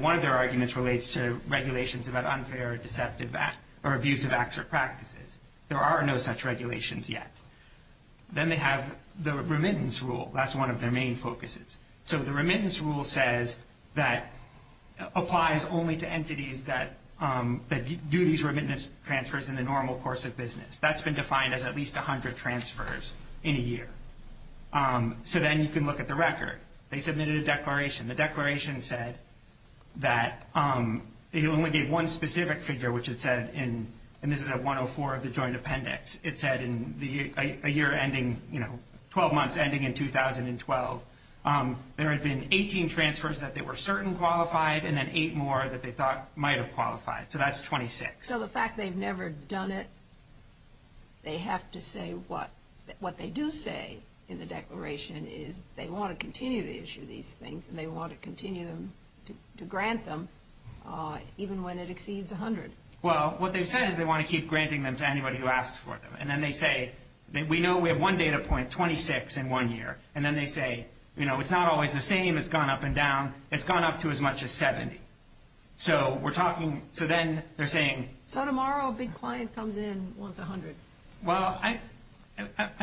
One of their arguments relates to regulations about unfair or deceptive or abusive acts or practices. There are no such regulations yet. Then they have the remittance rule. That's one of their main focuses. So the remittance rule says that it applies only to entities that do these remittance transfers in the normal course of business. That's been defined as at least 100 transfers in a year. So then you can look at the record. They submitted a declaration. The declaration said that they only gave one specific figure, which it said, and this is a 104 of the joint appendix. It said in the year ending, you know, 12 months ending in 2012, there had been 18 transfers that they were certain qualified and then eight more that they thought might have qualified. So that's 26. So the fact they've never done it, they have to say what? What they do say in the declaration is they want to continue to issue these things and they want to continue to grant them even when it exceeds 100. Well, what they said is they want to keep granting them to anybody who asks for them. And then they say, we know we have one data point, 26, in one year. And then they say, you know, it's not always the same. It's gone up and down. It's gone up to as much as 70. So we're talking, so then they're saying. So tomorrow a big client comes in and wants 100. Well, I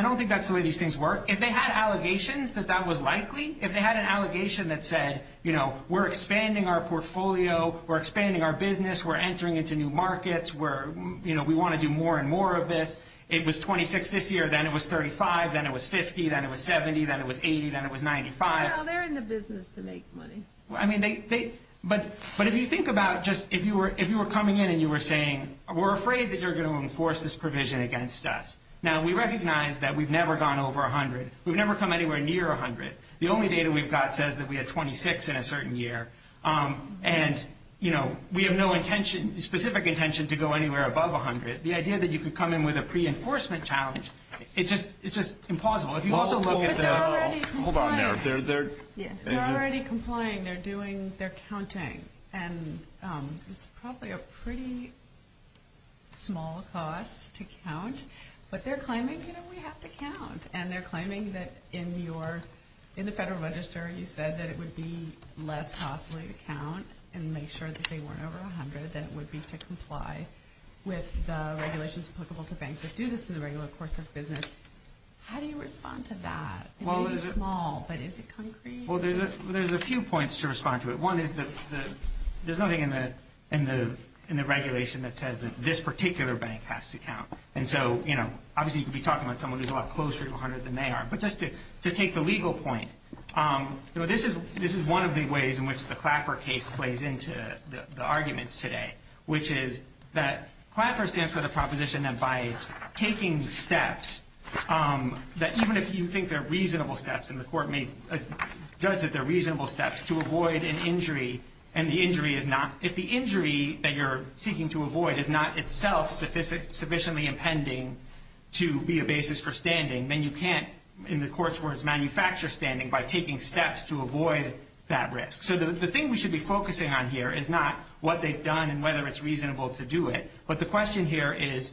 don't think that's the way these things work. If they had allegations that that was likely, if they had an allegation that said, you know, we're expanding our portfolio, we're expanding our business, we're entering into new markets, we want to do more and more of this, it was 26 this year, then it was 35, then it was 50, then it was 70, then it was 80, then it was 95. Well, they're in the business to make money. But if you think about just, if you were coming in and you were saying, we're afraid that you're going to enforce this provision against us. Now, we recognize that we've never gone over 100. We've never come anywhere near 100. The only data we've got says that we had 26 in a certain year. And, you know, we have no specific intention to go anywhere above 100. The idea that you could come in with a pre-enforcement challenge, it's just impossible. Hold on there. They're already complying. They're doing, they're counting. And it's probably a pretty small cost to count. But they're claiming, you know, we have to count. And they're claiming that in your, in the Federal Register, you said that it would be less costly to count and make sure that they weren't over 100, that would be to comply with the regulations applicable to banks that do this in the regular course of business. How do you respond to that? It's small, but is it concrete? Well, there's a few points to respond to it. One is that there's nothing in the regulation that says that this particular bank has to count. And so, you know, obviously you could be talking about someone who's a lot closer to 100 than they are. But just to take the legal point, you know, this is one of the ways in which the Clapper case plays into the arguments today, which is that Clapper stands for the proposition that by taking steps, that even if you think they're reasonable steps, and the Court may judge that they're reasonable steps to avoid an injury and the injury is not, if the injury that you're seeking to avoid is not itself sufficiently impending to be a basis for standing, then you can't, in the Court's words, manufacture standing by taking steps to avoid that risk. So the thing we should be focusing on here is not what they've done and whether it's reasonable to do it, but the question here is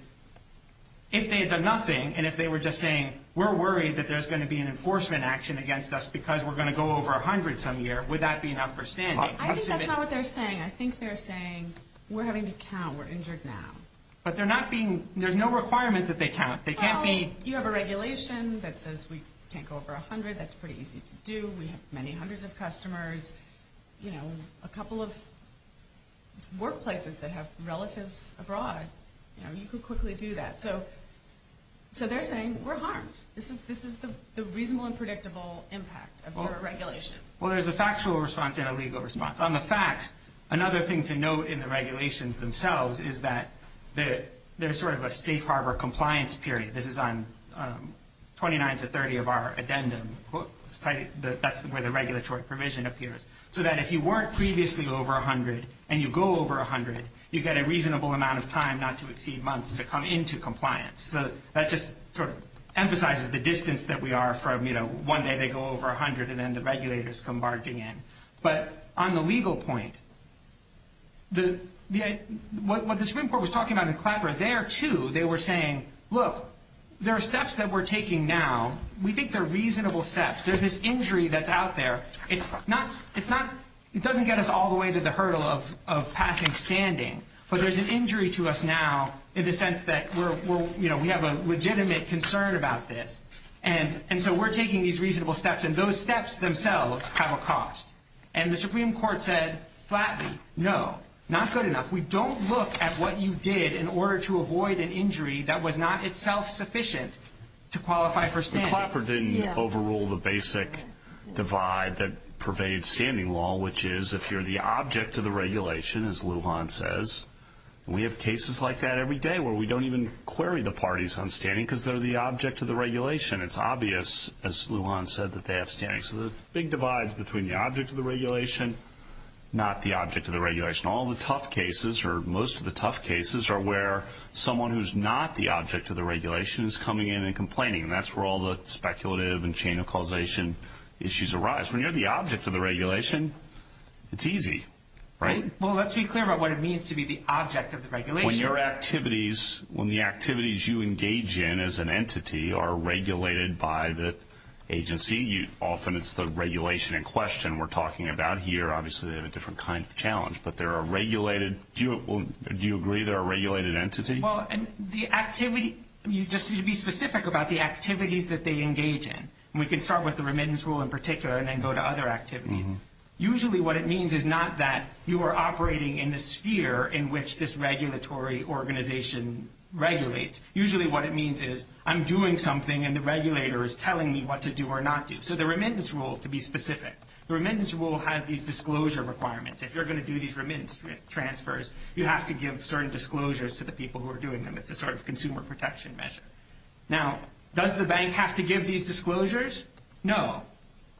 if they've done nothing and if they were just saying, we're worried that there's going to be an enforcement action against us because we're going to go over 100 some year, would that be enough for standing? I think that's not what they're saying. I think they're saying, we're having to count. We're injured now. But they're not being, there's no requirement that they count. They can't be. Well, you have a regulation that says we can't go over 100. That's pretty easy to do. We have many hundreds of customers. You know, a couple of workplaces that have relatives abroad, you know, you can quickly do that. So they're saying, we're harmed. This is the reasonable and predictable impact of our regulation. Well, there's a factual response and a legal response. On the facts, another thing to note in the regulations themselves is that there's sort of a State Harbor compliance period. This is on 29 to 30 of our addendum. That's where the regulatory provision appears. So that if you work previously over 100 and you go over 100, you get a reasonable amount of time not to exceed months to come into compliance. So that just sort of emphasizes the distance that we are from, you know, one day they go over 100 and then the regulators come barging in. But on the legal point, what the Supreme Court was talking about in Clapper, there, too, they were saying, look, there are steps that we're taking now. We think they're reasonable steps. There's this injury that's out there. It's not ñ it doesn't get us all the way to the hurdle of passing standing, but there's an injury to us now in the sense that, you know, we have a legitimate concern about this. And so we're taking these reasonable steps. And those steps themselves have a cost. And the Supreme Court said flatly, no, not good enough. We don't look at what you did in order to avoid an injury that was not itself sufficient to qualify for standing. In Clapper, didn't you overrule the basic divide that pervades standing law, which is if you're the object of the regulation, as Lujan says, we have cases like that every day where we don't even query the parties on standing because they're the object of the regulation. It's obvious, as Lujan said, that they have standing. So there's a big divide between the object of the regulation, not the object of the regulation. All the tough cases, or most of the tough cases, are where someone who's not the object of the regulation is coming in and complaining. And that's where all the speculative and chain of causation issues arise. When you're the object of the regulation, it's easy, right? Well, let's be clear about what it means to be the object of the regulation. When your activities ñ when the activities you engage in as an entity are regulated by the agency, often it's the regulation in question we're talking about here. Obviously they have a different kind of challenge, but they're a regulated ñ do you agree they're a regulated entity? Well, the activity ñ just to be specific about the activities that they engage in. We can start with the remittance rule in particular and then go to other activities. Usually what it means is not that you are operating in the sphere in which this regulatory organization regulates. Usually what it means is I'm doing something and the regulator is telling me what to do or not do. So the remittance rule, to be specific. The remittance rule has these disclosure requirements. If you're going to do these remittance transfers, you have to give certain disclosures to the people who are doing them. It's a sort of consumer protection measure. Now, does the bank have to give these disclosures? No.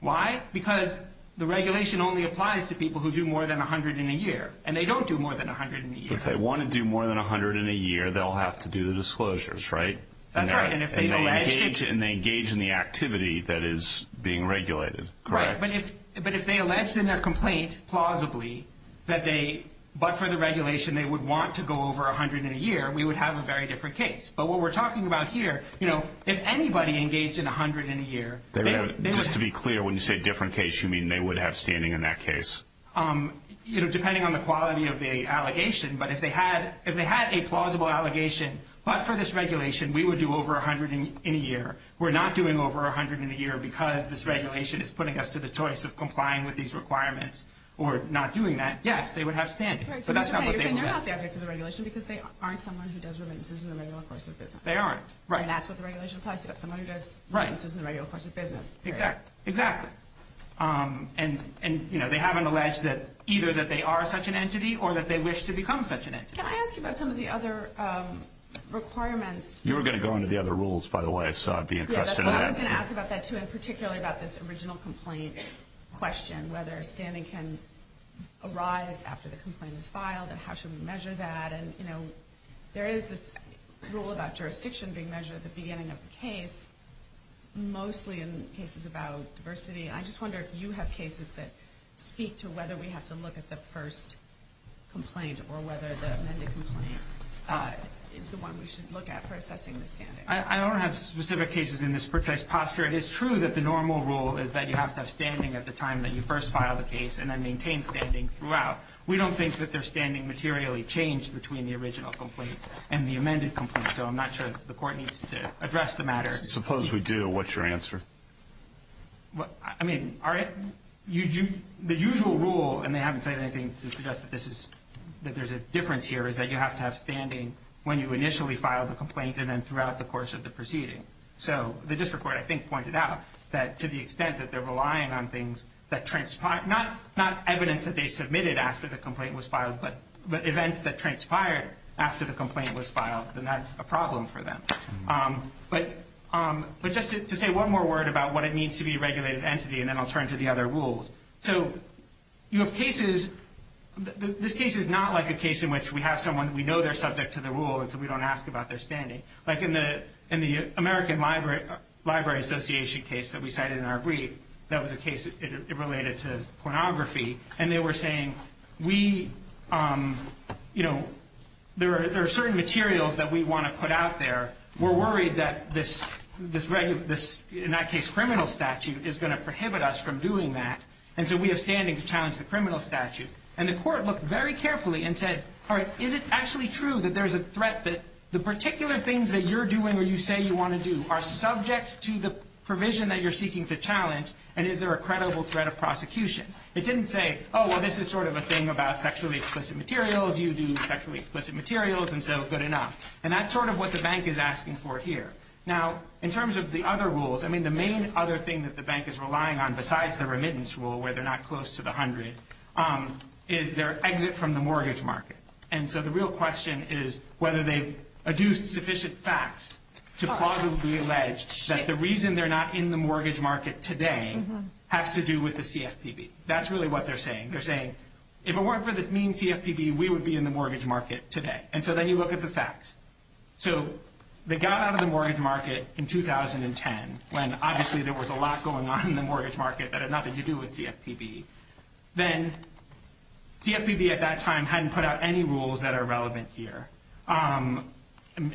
Why? Because the regulation only applies to people who do more than 100 in a year, and they don't do more than 100 in a year. If they want to do more than 100 in a year, they'll have to do the disclosures, right? And they engage in the activity that is being regulated, correct? But if they allege in their complaint, plausibly, that they, but for the regulation, they would want to go over 100 in a year, we would have a very different case. But what we're talking about here, you know, if anybody engaged in 100 in a year. Just to be clear, when you say different case, you mean they would have standing in that case? You know, depending on the quality of the allegation. But if they had a plausible allegation, but for this regulation, we would do over 100 in a year. We're not doing over 100 in a year because this regulation is putting us to the choice of complying with these requirements or not doing that. Yes, they would have standing. They're not the object of the regulation because they aren't someone who does remittances in the regular course of business. They aren't. And that's what the regulation applies to, but someone who does remittances in the regular course of business. Exactly. And, you know, they haven't alleged that either that they are such an entity or that they wish to become such an entity. Can I ask you about some of the other requirements? You were going to go into the other rules, by the way, so I'd be interested in that. Yeah, that's what I was going to ask about that, too, and particularly about this original complaint question, whether a standing can arise after the complaint is filed and how should we measure that. And, you know, there is this rule about jurisdiction being measured at the beginning of the case, mostly in cases about diversity. I just wonder if you have cases that speak to whether we have to look at the first complaint or whether the amended complaint is the one we should look at for assessing the standing. I don't have specific cases in this particular posture. It is true that the normal rule is that you have to have standing at the time that you first file the case and then maintain standing throughout. We don't think that their standing materially changed between the original complaint and the amended complaint, so I'm not sure the court needs to address the matter. Suppose we do. What's your answer? I mean, the usual rule, and they haven't said anything to suggest that there's a difference here, is that you have to have standing when you initially file the complaint and then throughout the course of the proceeding. So the district court, I think, pointed out that to the extent that they're relying on things that transpired, not evidence that they submitted after the complaint was filed, but events that transpired after the complaint was filed, then that's a problem for them. But just to say one more word about what it means to be a regulated entity, and then I'll turn to the other rules. So this case is not like a case in which we have someone we know they're subject to the rule and so we don't ask about their standing. Like in the American Library Association case that we cited in our brief, that was a case related to pornography, and they were saying, you know, there are certain materials that we want to put out there. We're worried that this, in that case, criminal statute is going to prohibit us from doing that, and so we have standing to challenge the criminal statute. And the court looked very carefully and said, all right, is it actually true that there's a threat that the particular things that you're doing or you say you want to do are subject to the provision that you're seeking to challenge, and is there a credible threat of prosecution? It didn't say, oh, well, this is sort of a thing about sexually explicit materials. You do sexually explicit materials, and so good enough. And that's sort of what the bank is asking for here. Now, in terms of the other rules, I mean, the main other thing that the bank is relying on, besides the remittance rule where they're not close to the 100, is their exit from the mortgage market. And so the real question is whether they adduce sufficient facts to plausibly allege that the reason they're not in the mortgage market today has to do with the CFPB. That's really what they're saying. They're saying, if it weren't for this mean CFPB, we would be in the mortgage market today. And so then you look at the facts. So they got out of the mortgage market in 2010, when obviously there was a lot going on in the mortgage market that had nothing to do with CFPB. Then CFPB at that time hadn't put out any rules that are relevant here,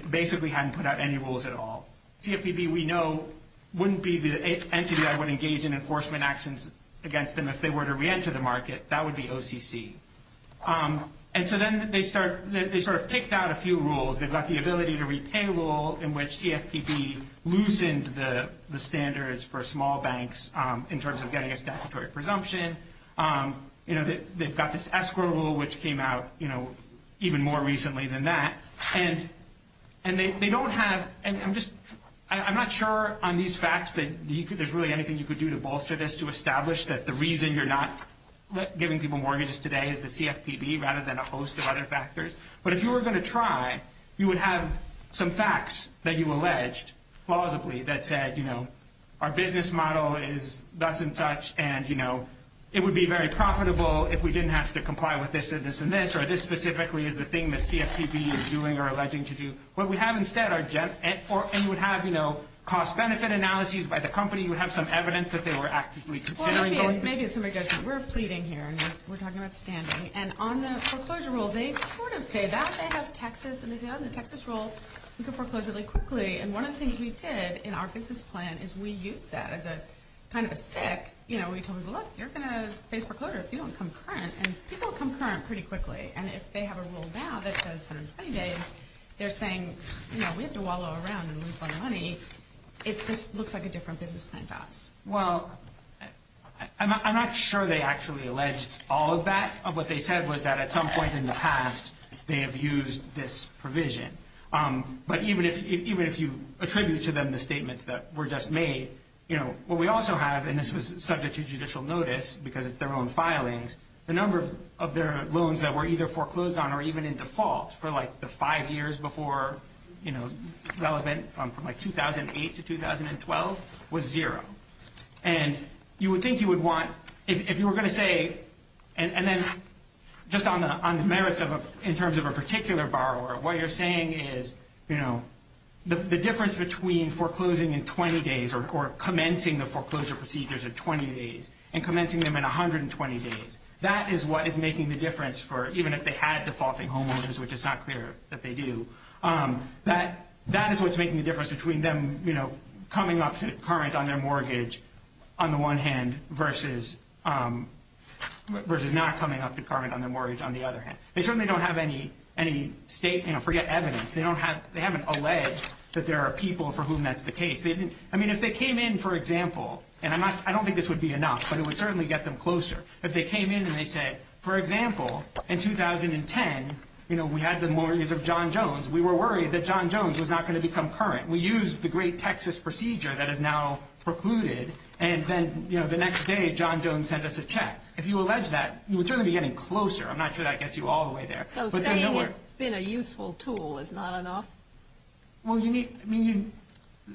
basically hadn't put out any rules at all. CFPB, we know, wouldn't be the entity I would engage in enforcement actions against if they were to re-enter the market. That would be OCC. And so then they sort of picked out a few rules. They've got the ability to retain rule in which CFPB loosened the standards for small banks in terms of getting a statutory presumption. They've got this escrow rule, which came out even more recently than that. And I'm not sure on these facts that there's really anything you could do to bolster this, to establish that the reason you're not giving people mortgages today is the CFPB rather than a host of other factors. But if you were going to try, you would have some facts that you alleged, plausibly, that said, you know, our business model is thus and such, and, you know, it would be very profitable if we didn't have to comply with this and this and this, or this specifically is the thing that CFPB is doing or alleging to do. What we have instead, and we have, you know, cost-benefit analogies, but the company would have some evidence that they were actively considering going to... Well, I think maybe it's a big issue. We're pleading here, and we're talking about standing. And on the foreclosure rule, they sort of say that they have Texas, and if you have the Texas rule, you can foreclose really quickly. And one of the things we did in our business plan is we used that as a kind of a stick. You know, we told them, look, you're going to face foreclosure if you don't come current. And people come current pretty quickly. And if they have a rule now that says 120 days, they're saying, you know, we have to wallow around and lose more money. It just looks like a different business plan to us. Well, I'm not sure they actually alleged all of that, of what they said was that at some point in the past they have used this provision. But even if you attribute to them the statements that were just made, you know, what we also have, and this was subject to judicial notice because it's their own filings, the number of their loans that were either foreclosed on or even in default for like the five years before, you know, relevant from like 2008 to 2012 was zero. And you would think you would want, if you were going to say, and then just on the merits in terms of a particular borrower, what you're saying is, you know, the difference between foreclosing in 20 days or commencing the foreclosure procedures in 20 days and commencing them in 120 days, that is what is making the difference for even if they had defaulting homeowners, which it's not clear that they do. That is what's making the difference between them, you know, coming up to the department on their mortgage on the one hand versus not coming up to the department on their mortgage on the other hand. They certainly don't have any state, you know, forget evidence. They haven't alleged that there are people for whom that's the case. I mean, if they came in, for example, and I don't think this would be enough, but it would certainly get them closer. If they came in and they said, for example, in 2010, you know, we had the mortgages of John Jones. We were worried that John Jones was not going to become current. We used the great Texas procedure that is now precluded, and then, you know, the next day John Jones sent us a check. If you allege that, you're certainly getting closer. I'm not sure that gets you all the way there. So saying it's been a useful tool is not enough? Well,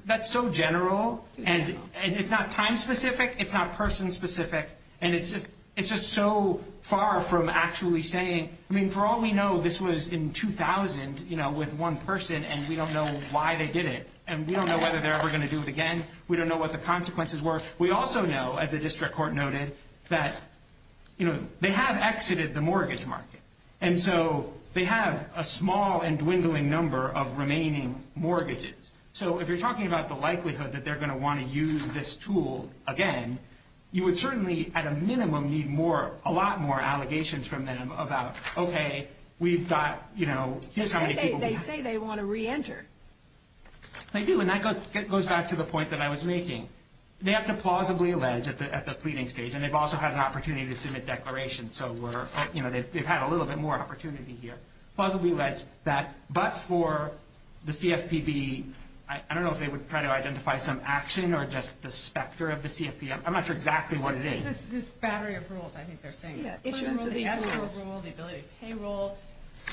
that's so general, and it's not time-specific. It's not person-specific, and it's just so far from actually saying. I mean, for all we know, this was in 2000, you know, with one person, and we don't know why they did it, and we don't know whether they're ever going to do it again. We don't know what the consequences were. We also know, as the district court noted, that, you know, they have exited the mortgage market, and so they have a small and dwindling number of remaining mortgages. So if you're talking about the likelihood that they're going to want to use this tool again, you would certainly, at a minimum, need a lot more allegations from them about, okay, we've got, you know, here's how many people. They say they want to reenter. They do, and that goes back to the point that I was making. They have to plausibly allege at the fleeting stage, and they've also had an opportunity to submit declarations. So, you know, they've had a little bit more opportunity here. But for the CFPB, I don't know if they would try to identify some action or just the specter of the CFPB. I'm not sure exactly what it is. It's this battery of rules. I think they're saying that. The F-rule, the K-rule. I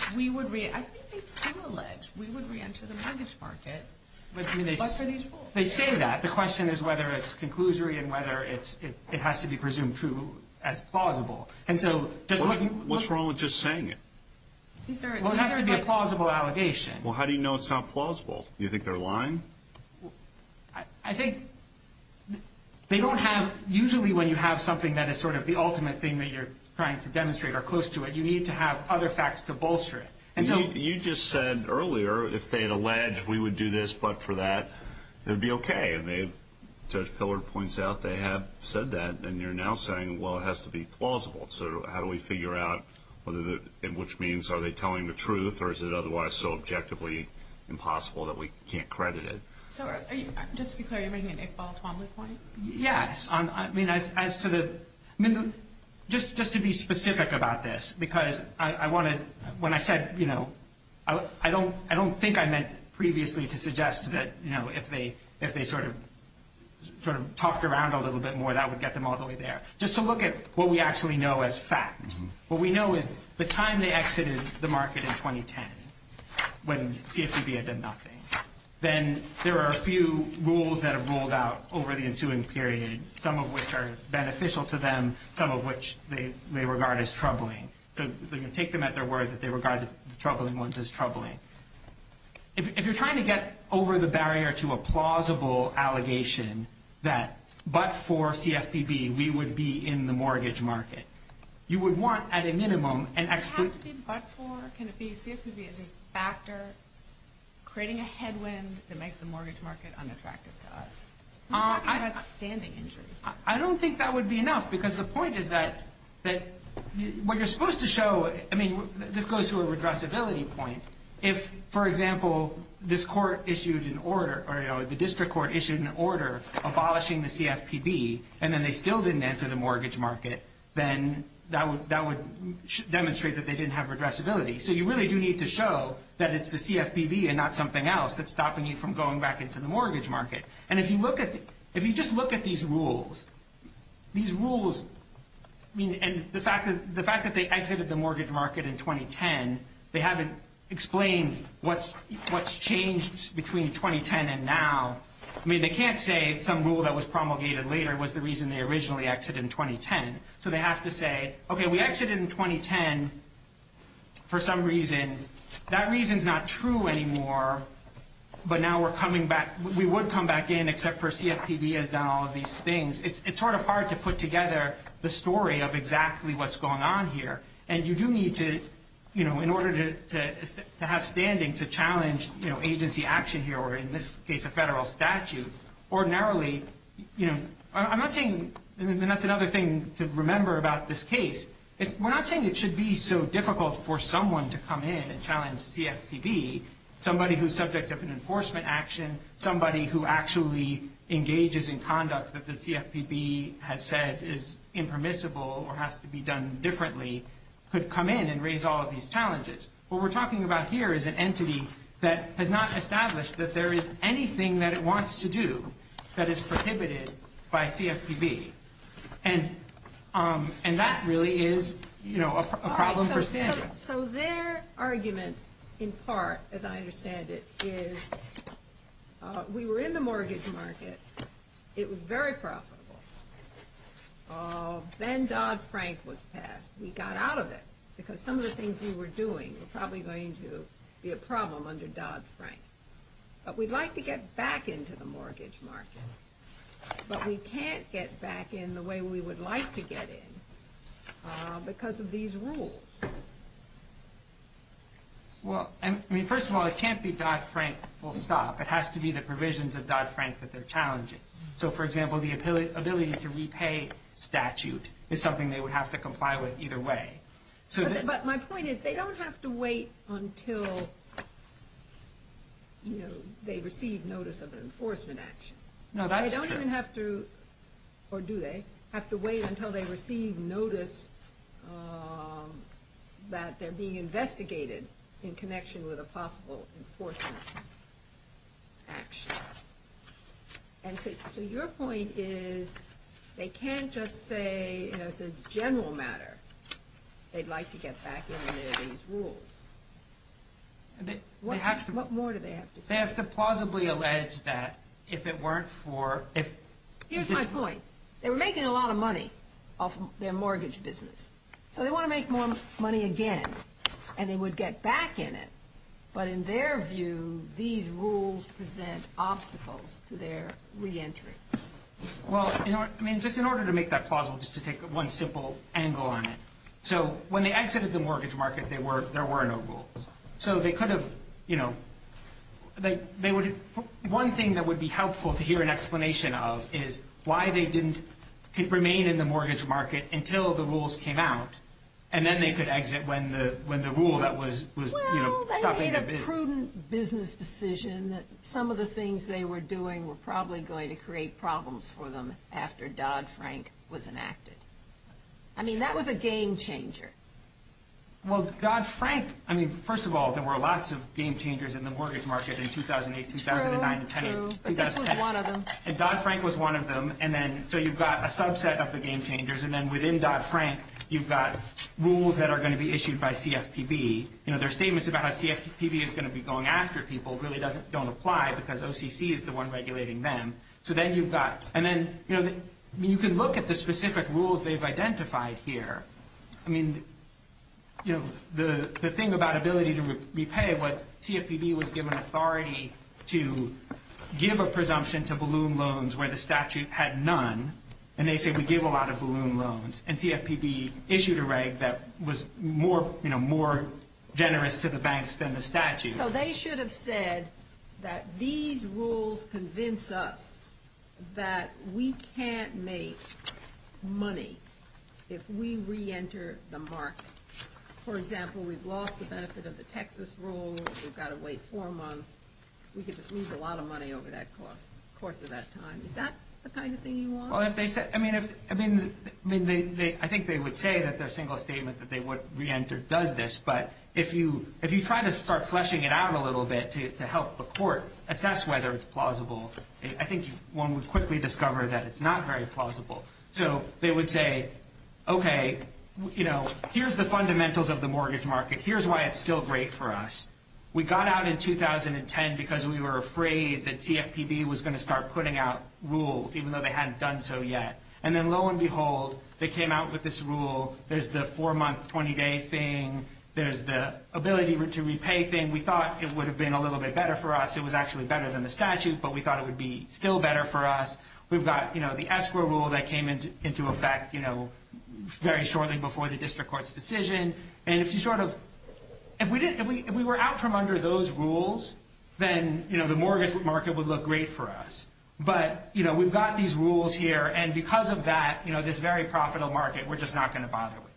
think they do allege we would reenter the mortgage market, but for these rules. They say that. The question is whether it's conclusory and whether it has to be presumed true as plausible. What's wrong with just saying it? Well, it's not going to be a plausible allegation. Well, how do you know it's not plausible? Do you think they're lying? I think they don't have – usually when you have something that is sort of the ultimate thing that you're trying to demonstrate or close to it, you need to have other facts to bolster it. You just said earlier if they had alleged we would do this but for that, it would be okay. And Judge Pillard points out they have said that, and you're now saying, well, it has to be plausible. So how do we figure out in which means? Are they telling the truth or is it otherwise so objectively impossible that we can't credit it? So just to be clear, you're saying it falls on this one? Yes. I mean, as to the – just to be specific about this because I want to – when I said, you know, I don't think I meant previously to suggest that, you know, if they sort of talked around a little bit more that would get them all the way there. Just to look at what we actually know as fact. What we know is the time they exited the market in 2010 when CFPB had done nothing. Then there are a few rules that have rolled out over the ensuing period, some of which are beneficial to them, some of which they regard as troubling. So you can take them at their word that they regard the troubling ones as troubling. If you're trying to get over the barrier to a plausible allegation that but for CFPB we would be in the mortgage market, you would want at a minimum an – How could but for? Can it be CFPB as a factor creating a headwind that makes the mortgage market unattractive to us? We're talking about standing injuries. I don't think that would be enough because the point is that what you're supposed to show – I mean, this goes to a regressibility point. If, for example, this court issued an order or the district court issued an order abolishing the CFPB and then they still didn't enter the mortgage market, then that would demonstrate that they didn't have regressibility. So you really do need to show that it's the CFPB and not something else that's stopping you from going back into the mortgage market. And if you look at – if you just look at these rules, these rules – I mean, and the fact that they exited the mortgage market in 2010, they haven't explained what's changed between 2010 and now. I mean, they can't say some rule that was promulgated later was the reason they originally exited in 2010. So they have to say, okay, we exited in 2010 for some reason. That reason's not true anymore, but now we're coming back – we would come back in except for CFPB and all of these things. It's sort of hard to put together the story of exactly what's going on here. And you do need to – in order to have standing to challenge agency action here or, in this case, a federal statute, ordinarily – I'm not saying – and that's another thing to remember about this case. We're not saying it should be so difficult for someone to come in and challenge CFPB, somebody who's subject of an enforcement action, somebody who actually engages in conduct that the CFPB has said is impermissible or has to be done differently could come in and raise all of these challenges. What we're talking about here is an entity that has not established that there is anything that it wants to do that is prohibited by CFPB. And that really is, you know, a problem for standards. So their argument, in part, as I understand it, is we were in the mortgage market. It was very profitable. Then Dodd-Frank was passed. We got out of it because some of the things we were doing were probably going to be a problem under Dodd-Frank. But we'd like to get back into the mortgage market, but we can't get back in the way we would like to get in because of these rules. Well, I mean, first of all, it can't be Dodd-Frank will stop. It has to be the provisions of Dodd-Frank that they're challenging. So, for example, the ability to repay statute is something they would have to comply with either way. But my point is they don't have to wait until they receive notice of an enforcement action. They don't even have to, or do they, have to wait until they receive notice that they're being investigated in connection with a possible enforcement action. So your point is they can't just say as a general matter they'd like to get back into these rules. What more do they have to say? They have to plausibly allege that if it weren't for... Here's my point. They were making a lot of money off their mortgage business. So they want to make more money again, and they would get back in it. But in their view, these rules present obstacles to their re-entry. Well, I mean, just in order to make that plausible, just to take one simple angle on it. So when they exited the mortgage market, there were no rules. So they could have, you know... One thing that would be helpful to hear an explanation of is why they didn't remain in the mortgage market until the rules came out, and then they could exit when the rule that was... Well, they made a prudent business decision that some of the things they were doing were probably going to create problems for them after Dodd-Frank was enacted. I mean, that was a game-changer. Well, Dodd-Frank... I mean, first of all, there were lots of game-changers in the mortgage market in 2008, 2009, 2010. True, true, but this was one of them. And Dodd-Frank was one of them, and then... So you've got a subset of the game-changers, and then within Dodd-Frank, you've got rules that are going to be issued by CFPB. You know, their statements about how CFPB is going to be going after people really don't apply because OCC is the one regulating them. So then you've got... And then, you know, you can look at the specific rules they've identified here. I mean, you know, the thing about ability to repay was CFPB was given authority to give a presumption to balloon loans where the statute had none, and they said, we give a lot of balloon loans. And CFPB issued a rate that was more, you know, more generous to the banks than the statute. So they should have said that these rules convince us that we can't make money if we re-enter the market. For example, we've lost the benefit of the Texas rule, we've got to wait four months, we could just lose a lot of money over that course of that time. Is that the kind of thing you want? I mean, I think they would say that their single statement that they would re-enter does this, but if you try to start fleshing it out a little bit to help the court assess whether it's plausible, I think one would quickly discover that it's not very plausible. So they would say, okay, you know, here's the fundamentals of the mortgage market, here's why it's still great for us. We got out in 2010 because we were afraid that CFPB was going to start putting out rules, even though they hadn't done so yet. And then lo and behold, they came out with this rule. There's the four-month, 20-day thing. There's the ability to repay thing. We thought it would have been a little bit better for us. It was actually better than the statute, but we thought it would be still better for us. We've got, you know, the escrow rule that came into effect, you know, very shortly before the district court's decision. And if you sort of – if we were out from under those rules, then, you know, the mortgage market would look great for us. But, you know, we've got these rules here, and because of that, you know, this very profitable market we're just not going to bother with.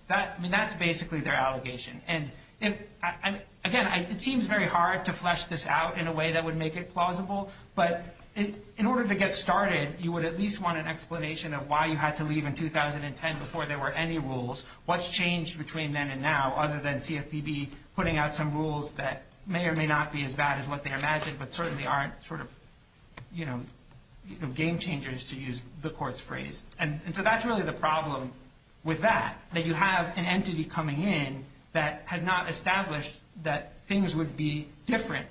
That's basically their allegation. And, again, it seems very hard to flesh this out in a way that would make it plausible, but in order to get started, you would at least want an explanation of why you had to leave in 2010 before there were any rules, what's changed between then and now, other than CFPB putting out some rules that may or may not be as bad as what they imagined, but certainly aren't sort of, you know, game changers, to use the court's phrase. And so that's really the problem with that, that you have an entity coming in that had not established that things would be different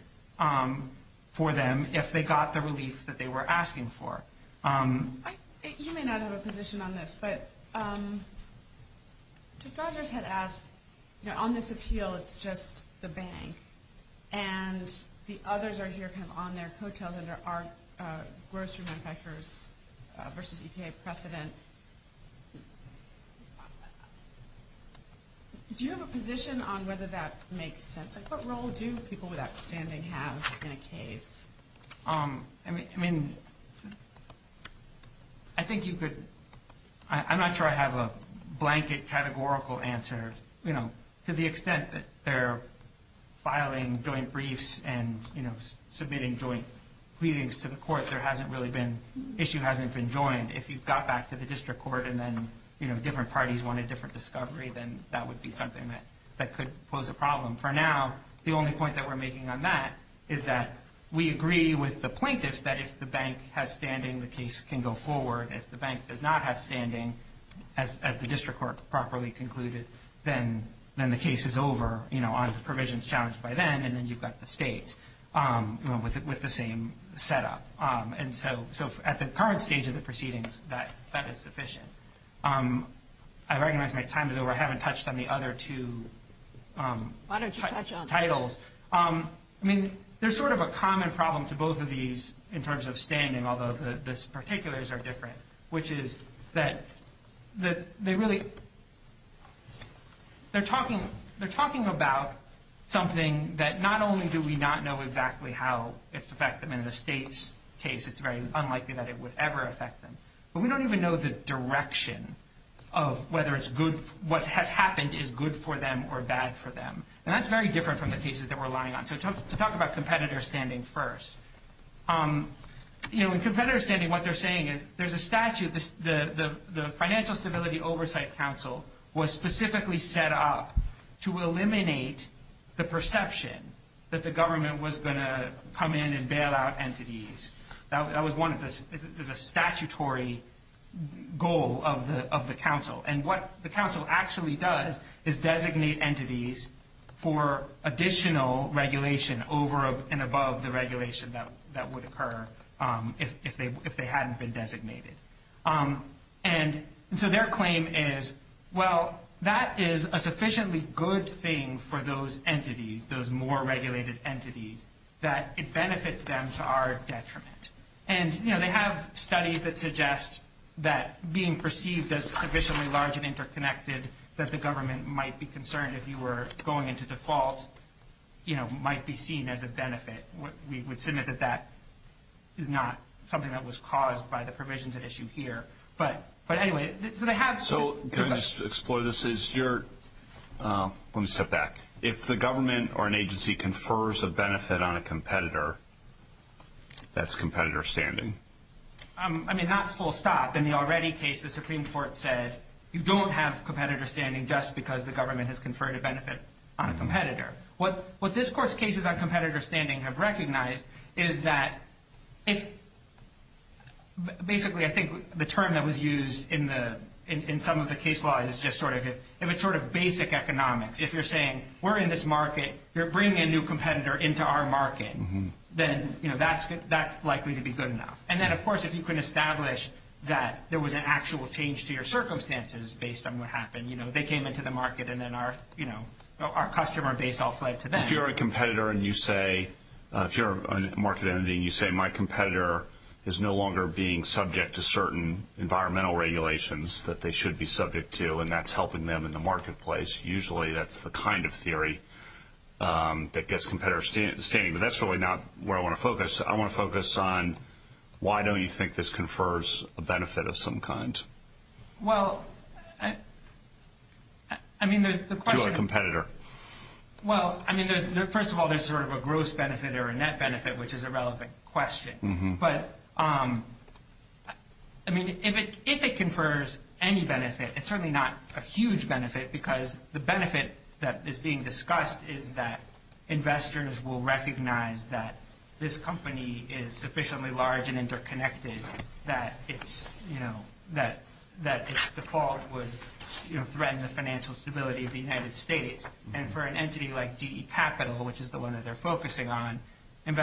for them if they got the relief that they were asking for. You may not have a position on this, but DeSantis had asked, you know, on this appeal it's just the bank and the others are here kind of on their hotels and there are grocery manufacturers versus EPA precedent. Do you have a position on whether that makes sense? Like what role do people without standing have in a case? I mean, I think you could, I'm not sure I have a blanket categorical answer. You know, to the extent that they're filing joint briefs and, you know, submitting joint readings to the courts, there hasn't really been, the issue hasn't been joined. If you got back to the district court and then, you know, different parties wanted different discovery, then that would be something that could pose a problem. For now, the only point that we're making on that is that we agree with the plaintiffs that if the bank has standing the case can go forward. If the bank does not have standing, as the district court properly concluded, then the case is over, you know, on the provisions challenged by then and then you've got the state, you know, with the same setup. And so at the current stage of the proceedings, that is sufficient. I recognize my time is over. I haven't touched on the other two titles. I mean, there's sort of a common problem to both of these in terms of standing, although the particulars are different, which is that they really, they're talking about something that not only do we not know exactly how it's affecting them in the state's case, it's very unlikely that it would ever affect them, but we don't even know the direction of whether it's good, what has happened is good for them or bad for them. And that's very different from the cases that we're relying on. So to talk about competitor standing first, you know, in competitor standing what they're saying is there's a statute, the Financial Stability Oversight Council was specifically set up to eliminate the perception that the government was going to come in and bail out entities. That was one of the statutory goals of the council. And what the council actually does is designate entities for additional regulation over and above the regulation that would occur if they hadn't been designated. And so their claim is, well, that is a sufficiently good thing for those entities, those more regulated entities, that it benefits them to our detriment. And, you know, they have studies that suggest that being perceived as sufficiently large and interconnected that the government might be concerned if you were going into default, you know, might be seen as a benefit. We would submit that that is not something that was caused by the provisions at issue here. But anyway, so they have... So explore this as your... Let me step back. If the government or an agency confers a benefit on a competitor, that's competitor standing. I mean, that's full stop. In the already case, the Supreme Court said you don't have competitor standing just because the government has conferred a benefit on a competitor. What this court's cases on competitor standing have recognized is that if... Some of the case law is just sort of... If it's sort of basic economics, if you're saying, we're in this market, you're bringing a new competitor into our market, then, you know, that's likely to be good enough. And then, of course, if you can establish that there was an actual change to your circumstances based on what happened, you know, they came into the market and then our, you know, our customer base also led to that. If you're a competitor and you say... If you're a market entity and you say my competitor is no longer being subject to certain environmental regulations that they should be subject to and that's helping them in the marketplace, usually that's the kind of theory that gets competitor standing. But that's really not where I want to focus. I want to focus on why don't you think this confers a benefit of some kind? Well, I mean, the question... You're a competitor. Well, I mean, first of all, there's sort of a gross benefit or a net benefit, which is a relevant question. But, I mean, if it confers any benefit, it's certainly not a huge benefit because the benefit that is being discussed is that investors will recognize that this company is sufficiently large and interconnected that its default would threaten the financial stability of the United States. And for an entity like GE Capital, which is the one that they're focusing on, and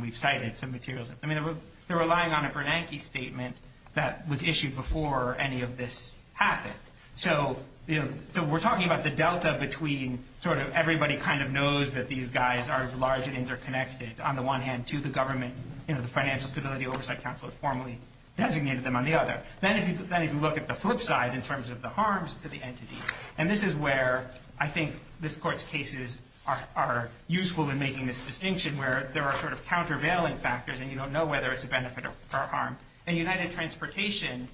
we've cited some materials, I mean, they're relying on a Bernanke statement that was issued before any of this happened. So we're talking about the delta between sort of everybody kind of knows that these guys are largely interconnected on the one hand to the government, you know, the Financial Stability Oversight Council formally designated them on the other. Then if you look at the flip side in terms of the harms to the entity, and this is where I think this court's cases are useful in making this distinction where there are sort of countervailing factors and you don't know whether it's a benefit or a harm. In United Transportation,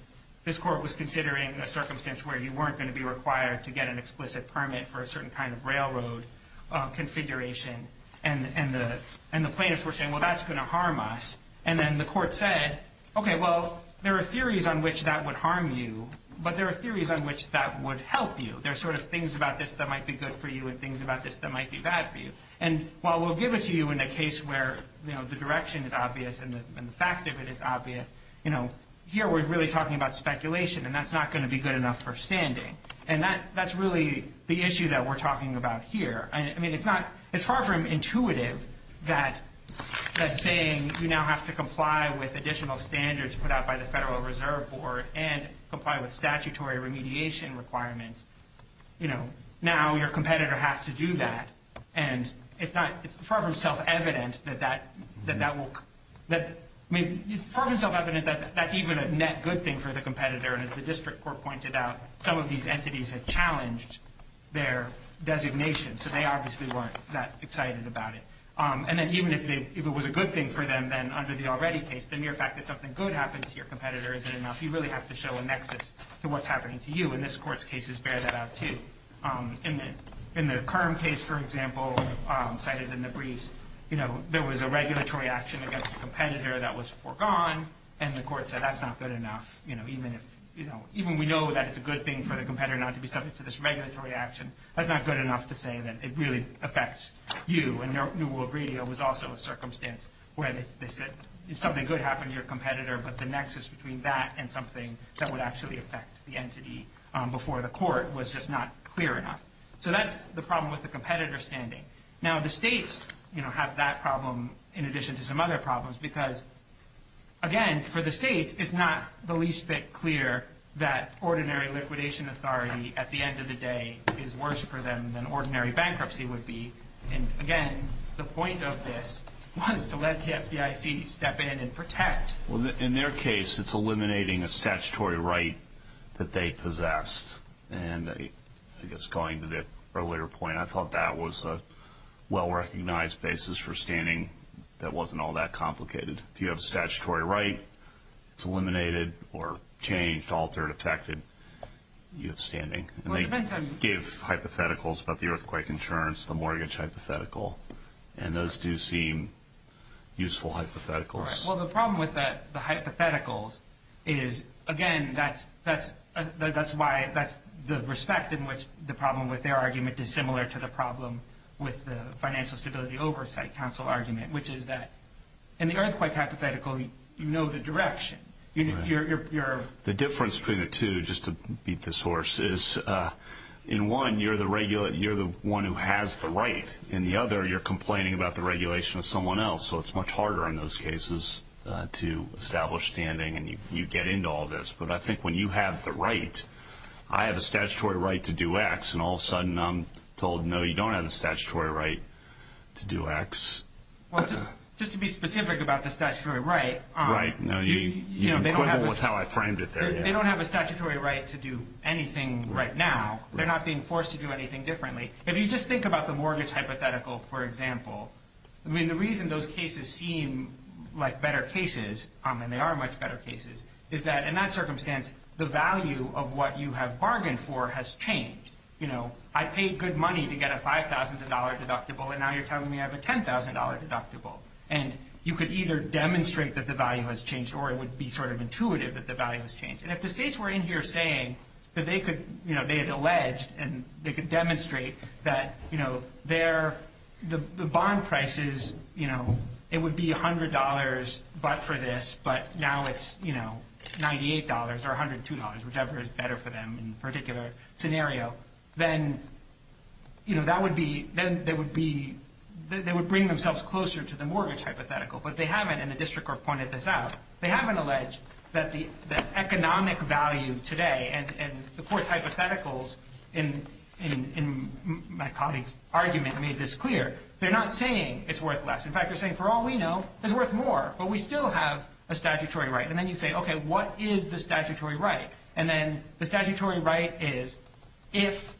this court was considering a circumstance where you weren't going to be required to get an explicit permit for a certain kind of railroad configuration. And the plaintiffs were saying, well, that's going to harm us. And then the court said, okay, well, there are theories on which that would harm you, but there are theories on which that would help you. There are sort of things about this that might be good for you and things about this that might be bad for you. And while we'll give it to you in a case where, you know, the direction is obvious and the fact of it is obvious, you know, here we're really talking about speculation and that's not going to be good enough for standing. And that's really the issue that we're talking about here. I mean, it's not – it's far from intuitive that saying you now have to comply with additional standards put out by the Federal Reserve Board and comply with statutory remediation requirements, you know, now your competitor has to do that. And it's not – it's far from self-evident that that will – I mean, it's far from self-evident that that's even a net good thing for the competitor. And as the district court pointed out, some of these entities have challenged their designation, so they obviously weren't that excited about it. And then even if it was a good thing for them, then under the already case, the mere fact that something good happens to your competitor isn't enough. You really have to show a nexus to what's happening to you. And this court's case is fair to that, too. In the current case, for example, cited in the brief, you know, there was a regulatory action against the competitor that was foregone, and the court said that's not good enough. You know, even if – you know, even if we know that it's a good thing for the competitor not to be subject to this regulatory action, that's not good enough to say that it really affects you. And you will agree it was also a circumstance where they said something good happened to your competitor, but the nexus between that and something that would actually affect the entity before the court was just not clear enough. So that's the problem with the competitor standing. Now the states, you know, have that problem in addition to some other problems because, again, for the states, it's not the least bit clear that ordinary liquidation authority at the end of the day is worse for them than ordinary bankruptcy would be. And, again, the point of this was to let the FDIC step in and protect. Well, in their case, it's eliminating a statutory right that they possessed. And I think it's going to the earlier point. I thought that was a well-recognized basis for standing that wasn't all that complicated. If you have a statutory right, it's eliminated or changed, altered, affected your standing. They gave hypotheticals about the earthquake insurance, the mortgage hypothetical, and those do seem useful hypotheticals. Well, the problem with the hypotheticals is, again, that's the respect in which the problem with their argument is similar to the problem with the Financial Stability Oversight Council argument, which is that in the earthquake hypothetical, you know the direction. The difference between the two, just to beat this horse, is in one, you're the one who has the right. In the other, you're complaining about the regulation of someone else. So it's much harder in those cases to establish standing and you get into all this. But I think when you have the right, I have a statutory right to do X, and all of a sudden I'm told, no, you don't have the statutory right to do X. Well, just to be specific about the statutory right. Right. You can point out what's how I framed it there. They don't have a statutory right to do anything right now. They're not being forced to do anything differently. But if you just think about the mortgage hypothetical, for example, I mean, the reason those cases seem like better cases, and they are much better cases, is that in that circumstance, the value of what you have bargained for has changed. I paid good money to get a $5,000 deductible, and now you're telling me I have a $10,000 deductible. And you could either demonstrate that the value has changed or it would be sort of intuitive that the value has changed. And if the states were in here saying that they had alleged and they could demonstrate that the bond prices, it would be $100 but for this, but now it's, you know, $98 or $102, whatever is better for them in a particular scenario, then, you know, that would be, then they would be, they would bring themselves closer to the mortgage hypothetical. But they haven't, and the district court pointed this out, they haven't alleged that the economic value today, and the four hypotheticals in my colleague's argument made this clear. They're not saying it's worth less. In fact, they're saying, for all we know, it's worth more. But we still have a statutory right. And then you say, okay, what is the statutory right? And then the statutory right is if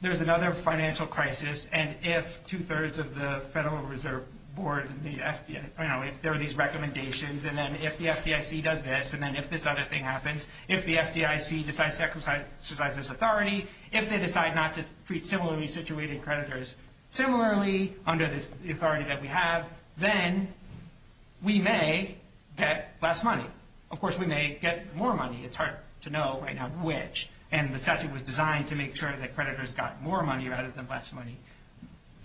there's another financial crisis and if two-thirds of the Federal Reserve Board, you know, if there are these recommendations, and then if the FDIC does this, and then if this other thing happens, if the FDIC decides to exercise this authority, if they decide not to treat similarly situated creditors similarly under the authority that we have, then we may get less money. Of course, we may get more money. It's hard to know right now which. And the statute was designed to make sure that creditors got more money rather than less money.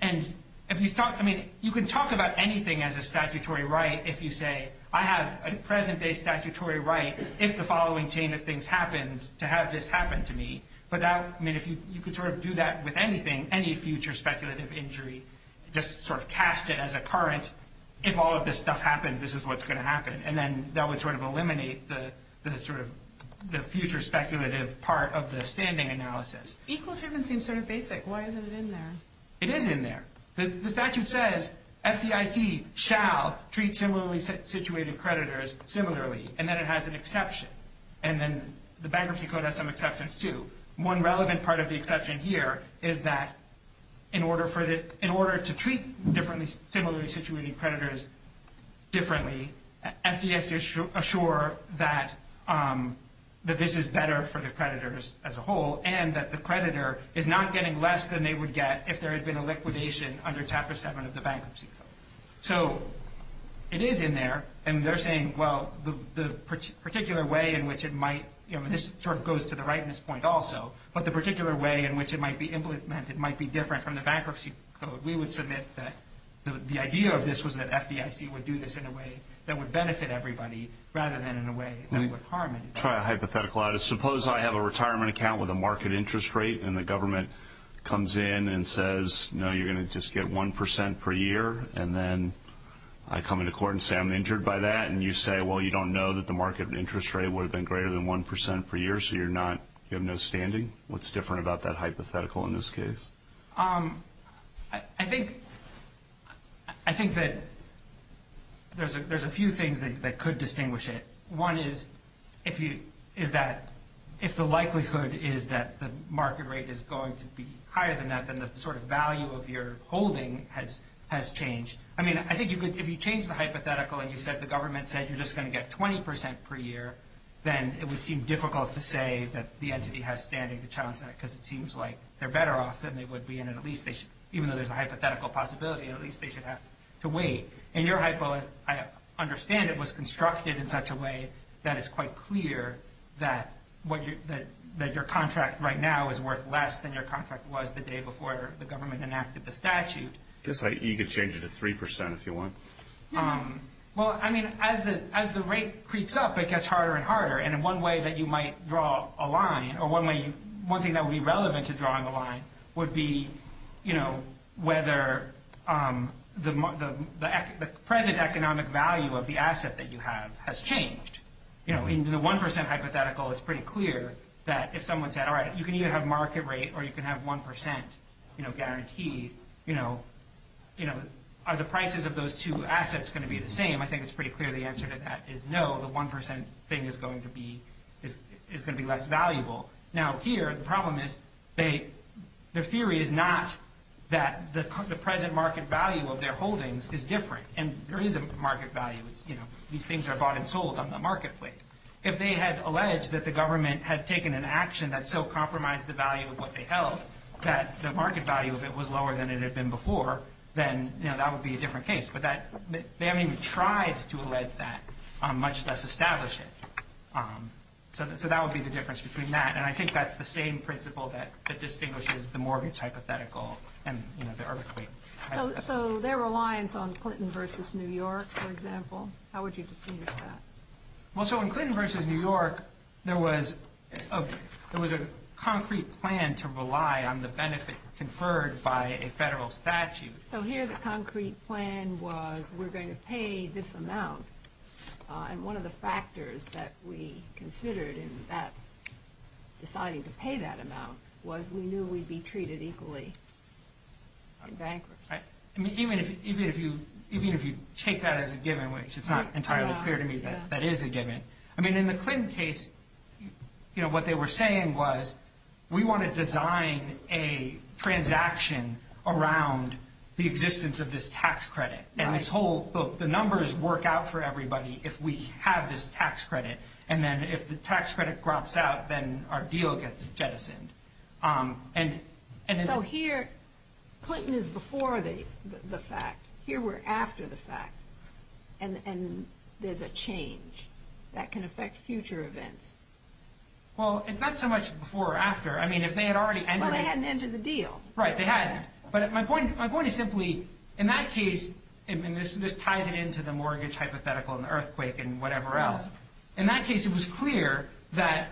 And if you talk to me, you can talk about anything as a statutory right if you say, I have a present-day statutory right if the following chain of things happens to have this happen to me. But that, I mean, if you could sort of do that with anything, any future speculative injury, just sort of cast it as a current. If all of this stuff happens, this is what's going to happen. And then that would sort of eliminate the sort of future speculative part of the standing analysis. Equal treatment seems sort of basic. Why is it in there? It is in there. The statute says FDIC shall treat similarly situated creditors similarly. And then it has an exception. And then the Bankruptcy Code has some exceptions too. One relevant part of the exception here is that in order to treat similarly situated creditors differently, FDIC should assure that this is better for the creditors as a whole and that the creditor is not getting less than they would get if there had been a liquidation under Chapter 7 of the Bankruptcy Code. So it is in there. And they're saying, well, the particular way in which it might, and this sort of goes to the rightness point also, but the particular way in which it might be implemented might be different from the Bankruptcy Code. We would submit that the idea of this was that FDIC would do this in a way that would benefit everybody rather than in a way that would harm anybody. Try a hypothetical. Suppose I have a retirement account with a market interest rate, and the government comes in and says, no, you're going to just get 1% per year. And then I come into court and say I'm injured by that. And you say, well, you don't know that the market interest rate would have been greater than 1% per year, so you have no standing. What's different about that hypothetical in this case? I think that there's a few things that could distinguish it. One is that if the likelihood is that the market rate is going to be higher than that, then the sort of value of your holding has changed. I mean, I think if you change the hypothetical and you said the government said you're just going to get 20% per year, then it would seem difficult to say that the entity has standing to challenge that because it seems like they're better off than they would be, and even though there's a hypothetical possibility, at least they should have to wait. And your hypo, I understand it, was constructed in such a way that it's quite clear that your contract right now is worth less than your contract was the day before the government enacted the statute. I guess you could change it to 3% if you want. Well, I mean, as the rate creeps up, it gets harder and harder, and one way that you might draw a line or one thing that would be relevant to drawing a line would be, you know, whether the present economic value of the asset that you have has changed. You know, in the 1% hypothetical, it's pretty clear that if someone said, all right, you can either have market rate or you can have 1%, you know, guarantee, you know, are the prices of those two assets going to be the same? I think it's pretty clear the answer to that is no. The 1% thing is going to be less valuable. Now here, the problem is the theory is not that the present market value of their holdings is different, and there is a market value, you know, these things are bought and sold on the marketplace. If they had alleged that the government had taken an action that so compromised the value of what they held that the market value of it was lower than it had been before, then, you know, that would be a different case. But they haven't even tried to allege that, much less establish it. So that would be the difference between that. And I think that's the same principle that distinguishes the mortgage hypothetical and, you know, the earthquake. So their reliance on Clinton versus New York, for example, how would you distinguish that? Well, so in Clinton versus New York, there was a concrete plan to rely on the benefit conferred by a federal statute. So here, the concrete plan was we're going to pay this amount. And one of the factors that we considered in deciding to pay that amount was we knew we'd be treated equally. Even if you take that as a given, which it's not entirely clear to me that that is a given, I mean, in the Clinton case, you know, what they were saying was, we want to design a transaction around the existence of this tax credit. And the numbers work out for everybody if we have this tax credit. And then if the tax credit drops out, then our deal gets jettisoned. So here, Clinton is before the fact. Here, we're after the fact. And there's a change that can affect future events. Well, it's not so much before or after. I mean, if they had already entered... But they hadn't entered the deal. Right, they hadn't. But my point is simply, in that case, and this ties into the mortgage hypothetical and the earthquake and whatever else. In that case, it was clear that,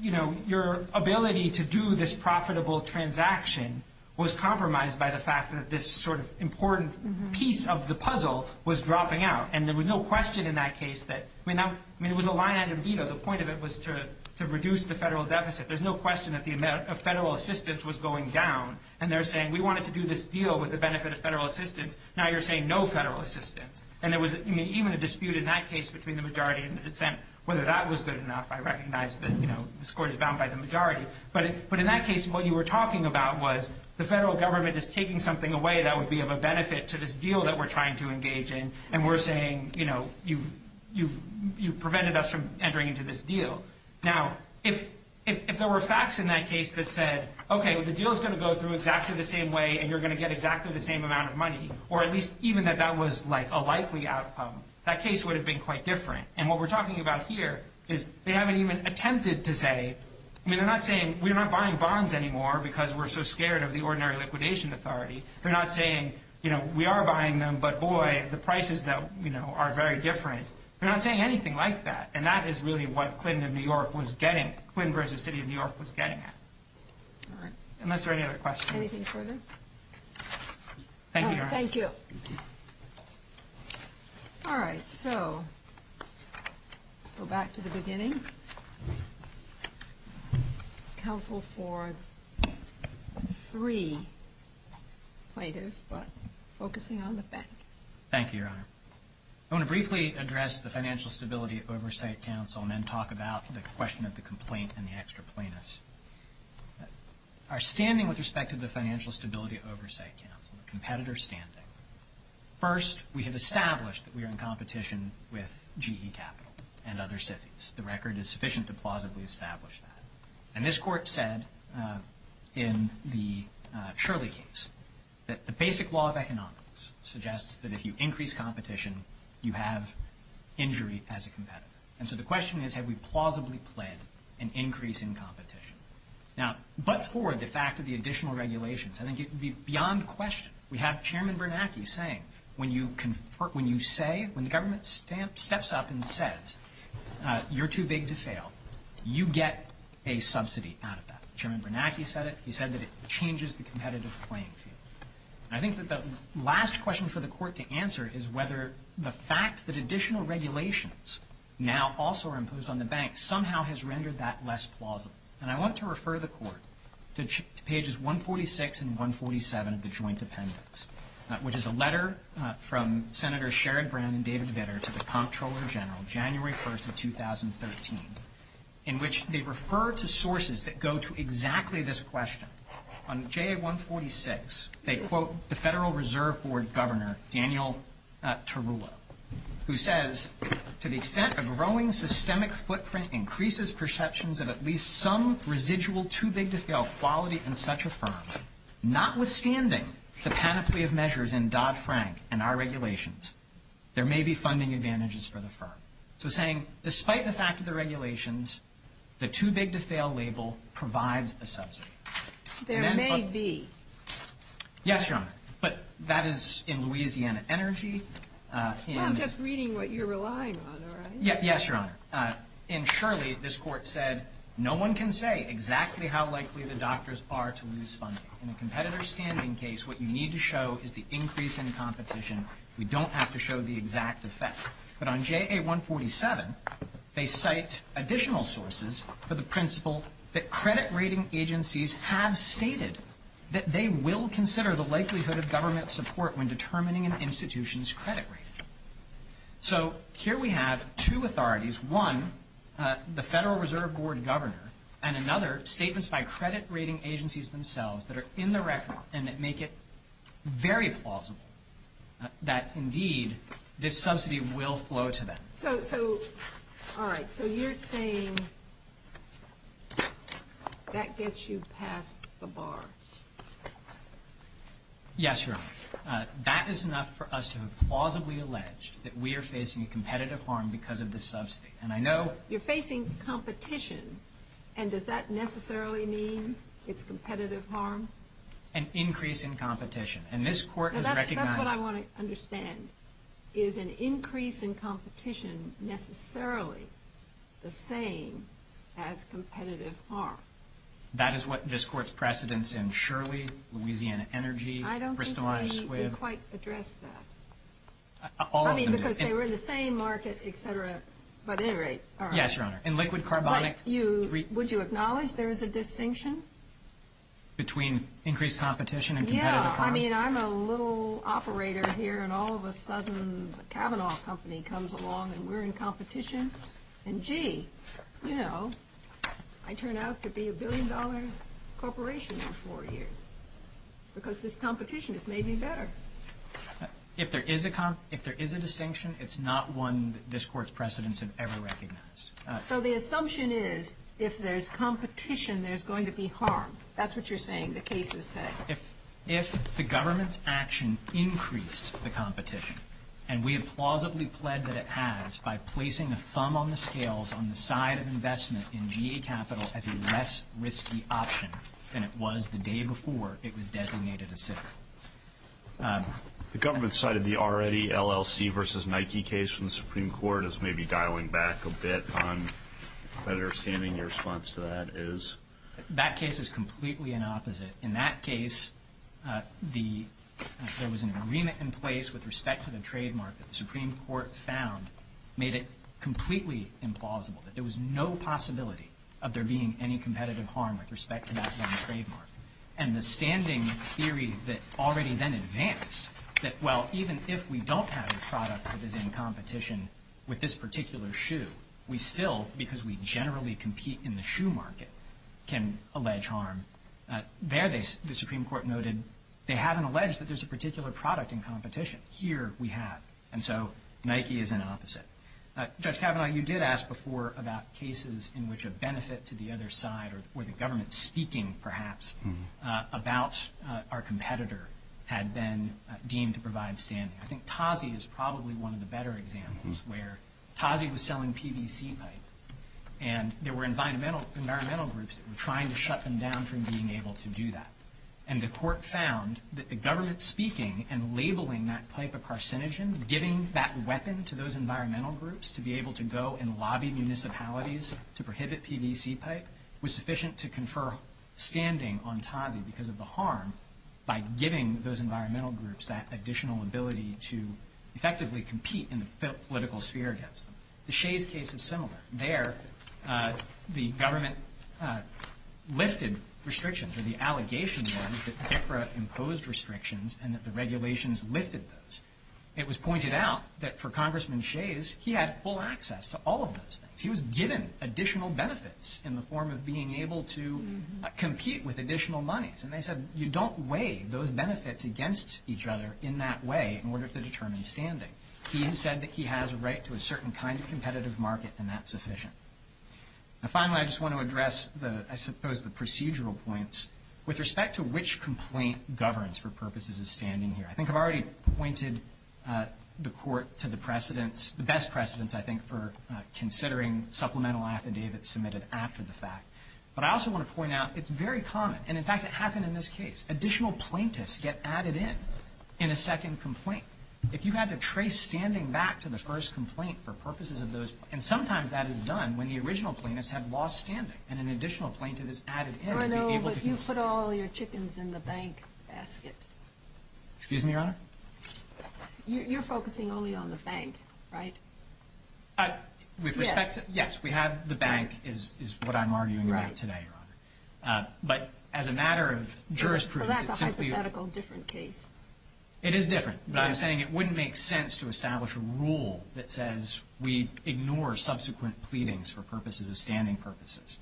you know, your ability to do this profitable transaction was compromised by the fact that this sort of important piece of the puzzle was dropping out. And there was no question in that case that... I mean, it was a line item veto. The point of it was to reduce the federal deficit. There's no question that the amount of federal assistance was going down. And they're saying, we wanted to do this deal with the benefit of federal assistance. Now you're saying no federal assistance. And there was even a dispute in that case between the majority and the dissent, whether that was good enough. I recognize that, you know, the score is bound by the majority. But in that case, what you were talking about was the federal government is taking something away that would be of a benefit to this deal that we're trying to engage in. And we're saying, you know, you've prevented us from entering into this deal. Now, if there were facts in that case that said, okay, the deal is going to go through exactly the same way and you're going to get exactly the same amount of money, or at least even that that was like a likely outcome, that case would have been quite different. And what we're talking about here is they haven't even attempted to say... I mean, they're not saying we're not buying bonds anymore because we're so scared of the ordinary liquidation authority. They're not saying, you know, we are buying them, but boy, the prices that, you know, are very different. They're not saying anything like that. And that is really what Clinton of New York was getting, Clinton versus City of New York was getting. All right. Unless there are any other questions. Anything further? Thank you, Your Honor. Thank you. All right. So, we're back to the beginning. Counsel for three plaintiffs, but focusing on the facts. Thank you, Your Honor. I want to briefly address the Financial Stability Oversight Council and then talk about the question of the complaint and the extra plaintiffs. Our standing with respect to the Financial Stability Oversight Council, competitor standing, first, we have established that we are in competition with GE Capital and other cities. The record is sufficient to plausibly establish that. And this court said in the Shirley case that the basic law of economics suggests that if you increase competition, you have injury as a competitor. And so the question is, have we plausibly pled an increase in competition? Now, but for the fact of the additional regulations, I think it would be beyond question. We have Chairman Bernanke saying, when you say, when the government steps up and says, you're too big to fail, you get a subsidy out of that. Chairman Bernanke said it. He said that it changes the competitive claim. I think that the last question for the court to answer is whether the fact that additional regulations now also imposed on the bank somehow has rendered that less plausible. And I want to refer the court to pages 146 and 147 of the Joint Appendix, which is a letter from Senator Sherrod Brown and David Vitter to the Comptroller General January 1st of 2013, in which they refer to sources that go to exactly this question. On JA 146, they quote the Federal Reserve Board Governor Daniel Tarullo, who says, to the extent a growing systemic footprint increases perceptions of at least some residual too-big-to-fail quality in such a firm, notwithstanding the panoply of measures in Dodd-Frank and our regulations, there may be funding advantages for the firm. So saying, despite the fact of the regulations, the too-big-to-fail label provides a subsidy. There may be. Yes, Your Honor. But that is in Louisiana Energy. I'm just reading what you're relying on, all right? Yes, Your Honor. And surely, this court said, no one can say exactly how likely the doctors are to lose funding. In a competitor's standing case, what you need to show is the increase in competition. We don't have to show the exact effect. But on JA 147, they cite additional sources for the principle that credit rating agencies have stated that they will consider the likelihood of government support when determining an institution's credit rating. So here we have two authorities, one, the Federal Reserve Board governor, and another, statements by credit rating agencies themselves that are in the record and that make it very plausible that, indeed, this subsidy will flow to them. So, all right, so you're saying that gets you past the bar. Yes, Your Honor. That is enough for us to plausibly allege that we are facing competitive harm because of this subsidy. And I know- You're facing competition. And does that necessarily mean it's competitive harm? An increase in competition. And this court has recognized- That's what I want to understand. Is an increase in competition necessarily the same as competitive harm? That is what this court's precedents in Shirley, Louisiana Energy- I don't think they quite addressed that. I mean, because they were in the same market, et cetera. But, at any rate, all right. Yes, Your Honor. In liquid carbonic- Would you acknowledge there is a distinction? Between increased competition and competitive harm? Yeah, I mean, I'm a little operator here, and all of a sudden, the Cavanaugh Company comes along, and we're in competition. And, gee, you know, I turn out to be a billion-dollar corporation for four years because this competition has made me better. If there is a distinction, it's not one this court's precedents have ever recognized. So the assumption is if there's competition, there's going to be harm. That's what you're saying the case has said. If the government's action increased the competition, and we had plausibly pled that it has by placing the thumb on the scales on the side of investment in G.E. Capital as a less risky option than it was the day before it was designated the city. The government cited the already LLC versus Nike case from the Supreme Court as maybe dialing back a bit on better standing. Your response to that is? That case is completely an opposite. In that case, there was an agreement in place with respect to the trademark that the Supreme Court found made it completely implausible, that there was no possibility of there being any competitive harm with respect to that same trademark. And the standing theory that already then advanced that, well, even if we don't have a product that is in competition with this particular shoe, we still, because we generally compete in the shoe market, can allege harm. There, the Supreme Court noted, they haven't alleged that there's a particular product in competition. Here we have. And so Nike is an opposite. Judge Kavanaugh, you did ask before about cases in which a benefit to the other side or the government speaking perhaps about our competitor had been deemed to provide standing. I think Tazi is probably one of the better examples where Tazi was selling PVC pipe and there were environmental groups trying to shut them down from being able to do that. And the court found that the government speaking and labeling that pipe a carcinogen, giving that weapon to those environmental groups to be able to go and lobby municipalities to prohibit PVC pipe was sufficient to confer standing on Tazi because of the harm by giving those environmental groups that additional ability to effectively compete in the political sphere against them. The Shays case is similar. There, the government lifted restrictions. The allegation was that ECRA imposed restrictions and that the regulations lifted those. It was pointed out that for Congressman Shays, he had full access to all of those things. He was given additional benefits in the form of being able to compete with additional monies. And they said, you don't weigh those benefits against each other in that way in order to determine standing. He said that he has a right to a certain kind of competitive market and that's sufficient. And finally, I just want to address the, I suppose, the procedural points with respect to which complaint governs for purposes of standing here. I think I've already pointed the court to the precedence, the best precedence, I think, for considering supplemental affidavit submitted after the fact. But I also want to point out it's very common. And in fact, it happened in this case. Additional plaintiffs get added in in a second complaint. If you had to trace standing back to the first complaint for purposes of those, and sometimes that is done when the original plaintiffs have lost standing. And an additional plaintiff is added in. You put all your chickens in the bank basket. Excuse me, Your Honor? You're focusing only on the bank, right? Yes, we have the bank is what I'm arguing about today, Your Honor. But as a matter of jurisprudence. That's a hypothetical different case. It is different. But I'm saying it wouldn't make sense to establish a rule that says we ignore subsequent pleadings for purposes of standing purposes.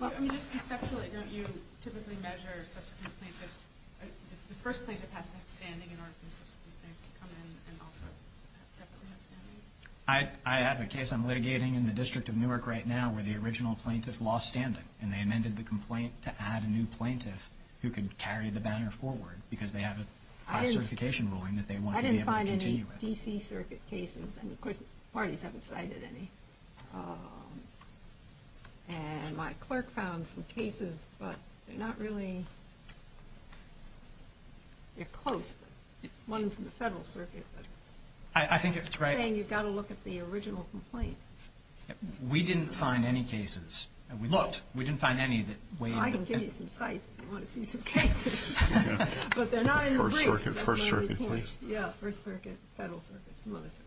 I mean, just conceptually, don't you typically measure subsequent plaintiffs? The first plaintiff has to have standing in our case. I have a case I'm litigating in the District of Newark right now where the original plaintiff lost standing. And they amended the complaint to add a new plaintiff who could carry the banner forward because they have a high certification ruling that they want to be able to continue with. I didn't find any D.C. circuit cases. And, of course, the parties haven't cited any. And my clerk found some cases, but they're not really... They're close. One's in the Federal Circuit. I think it's correct. You've got to look at the original complaint. We didn't find any cases. We looked. We didn't find any. I can give you some sites if you want to see some cases. But they're not in the brief. First Circuit, please. Yeah, First Circuit, Federal Circuit.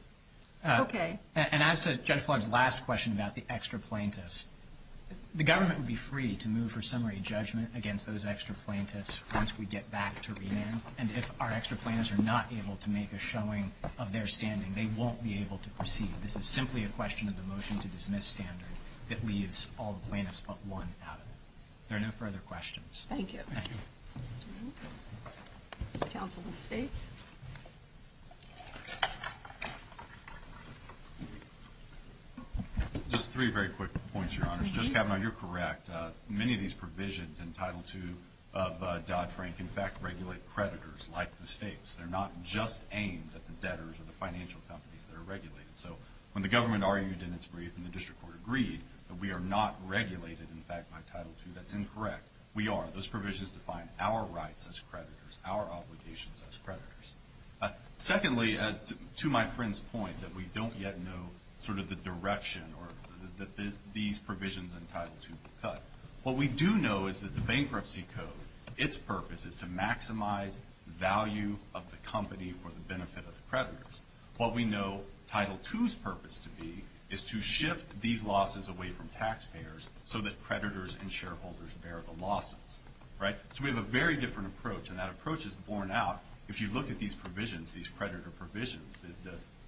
Okay. And as to Jennifer's last question about the extra plaintiffs, the government would be free to move for summary judgment against those extra plaintiffs once we get back to rename. And if our extra plaintiffs are not able to make a showing of their standing, they won't be able to proceed. This is simply a question of the motion to dismiss standard that leaves all the plaintiffs but one out. Are there no further questions? Thank you. Thank you. Counsel to the State. Just three very quick points, Your Honors. Just to have you correct, many of these provisions in Title II of Dodd-Frank, in fact, regulate creditors like the states. They're not just aimed at the debtors or the financial companies that are regulated. So when the government argued in its brief and the district court agreed that we are not regulated, in fact, by Title II, that's incorrect. We are. Those provisions define our rights as creditors, our obligations as creditors. Secondly, to my friend's point that we don't yet know sort of the direction or that these provisions in Title II does. What we do know is that the Bankruptcy Code, its purpose is to maximize value of the company for the benefit of the creditors. What we know Title II's purpose to be is to shift these losses away from taxpayers so that creditors and shareholders bear the losses. So we have a very different approach, and that approach is borne out if you look at these provisions, these creditor provisions,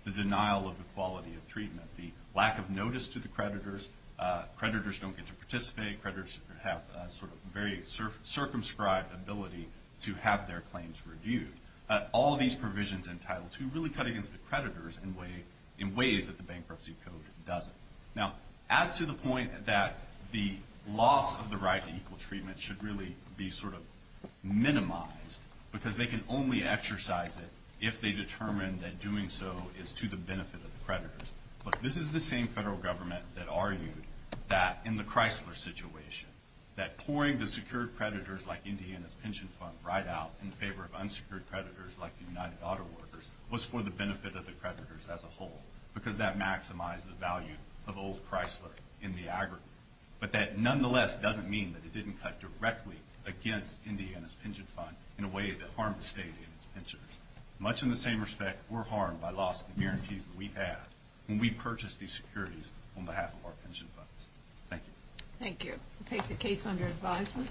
the denial of the quality of treatment, the lack of notice to the creditors. Creditors don't get to participate. Creditors have sort of very circumscribed ability to have their claims reviewed. All these provisions in Title II really cut against the creditors in ways that the Bankruptcy Code doesn't. Now, as to the point that the loss of the right to equal treatment should really be sort of minimized, because they can only exercise it if they determine that doing so is to the benefit of the creditors. But this is the same federal government that argued that in the Chrysler situation, that pouring the secured creditors like Indiana's pension fund right out in favor of unsecured creditors like the United Auto Workers was for the benefit of the creditors as a whole, because that maximized the value of old Chrysler in the aggregate. But that nonetheless doesn't mean that it didn't cut directly against Indiana's pension fund in a way that harmed the state of Indiana's pensions. Much in the same respect, we're harmed by loss of guarantees that we've had when we purchased these securities on behalf of our pension funds. Thank you. Thank you. We'll take the case under advisement.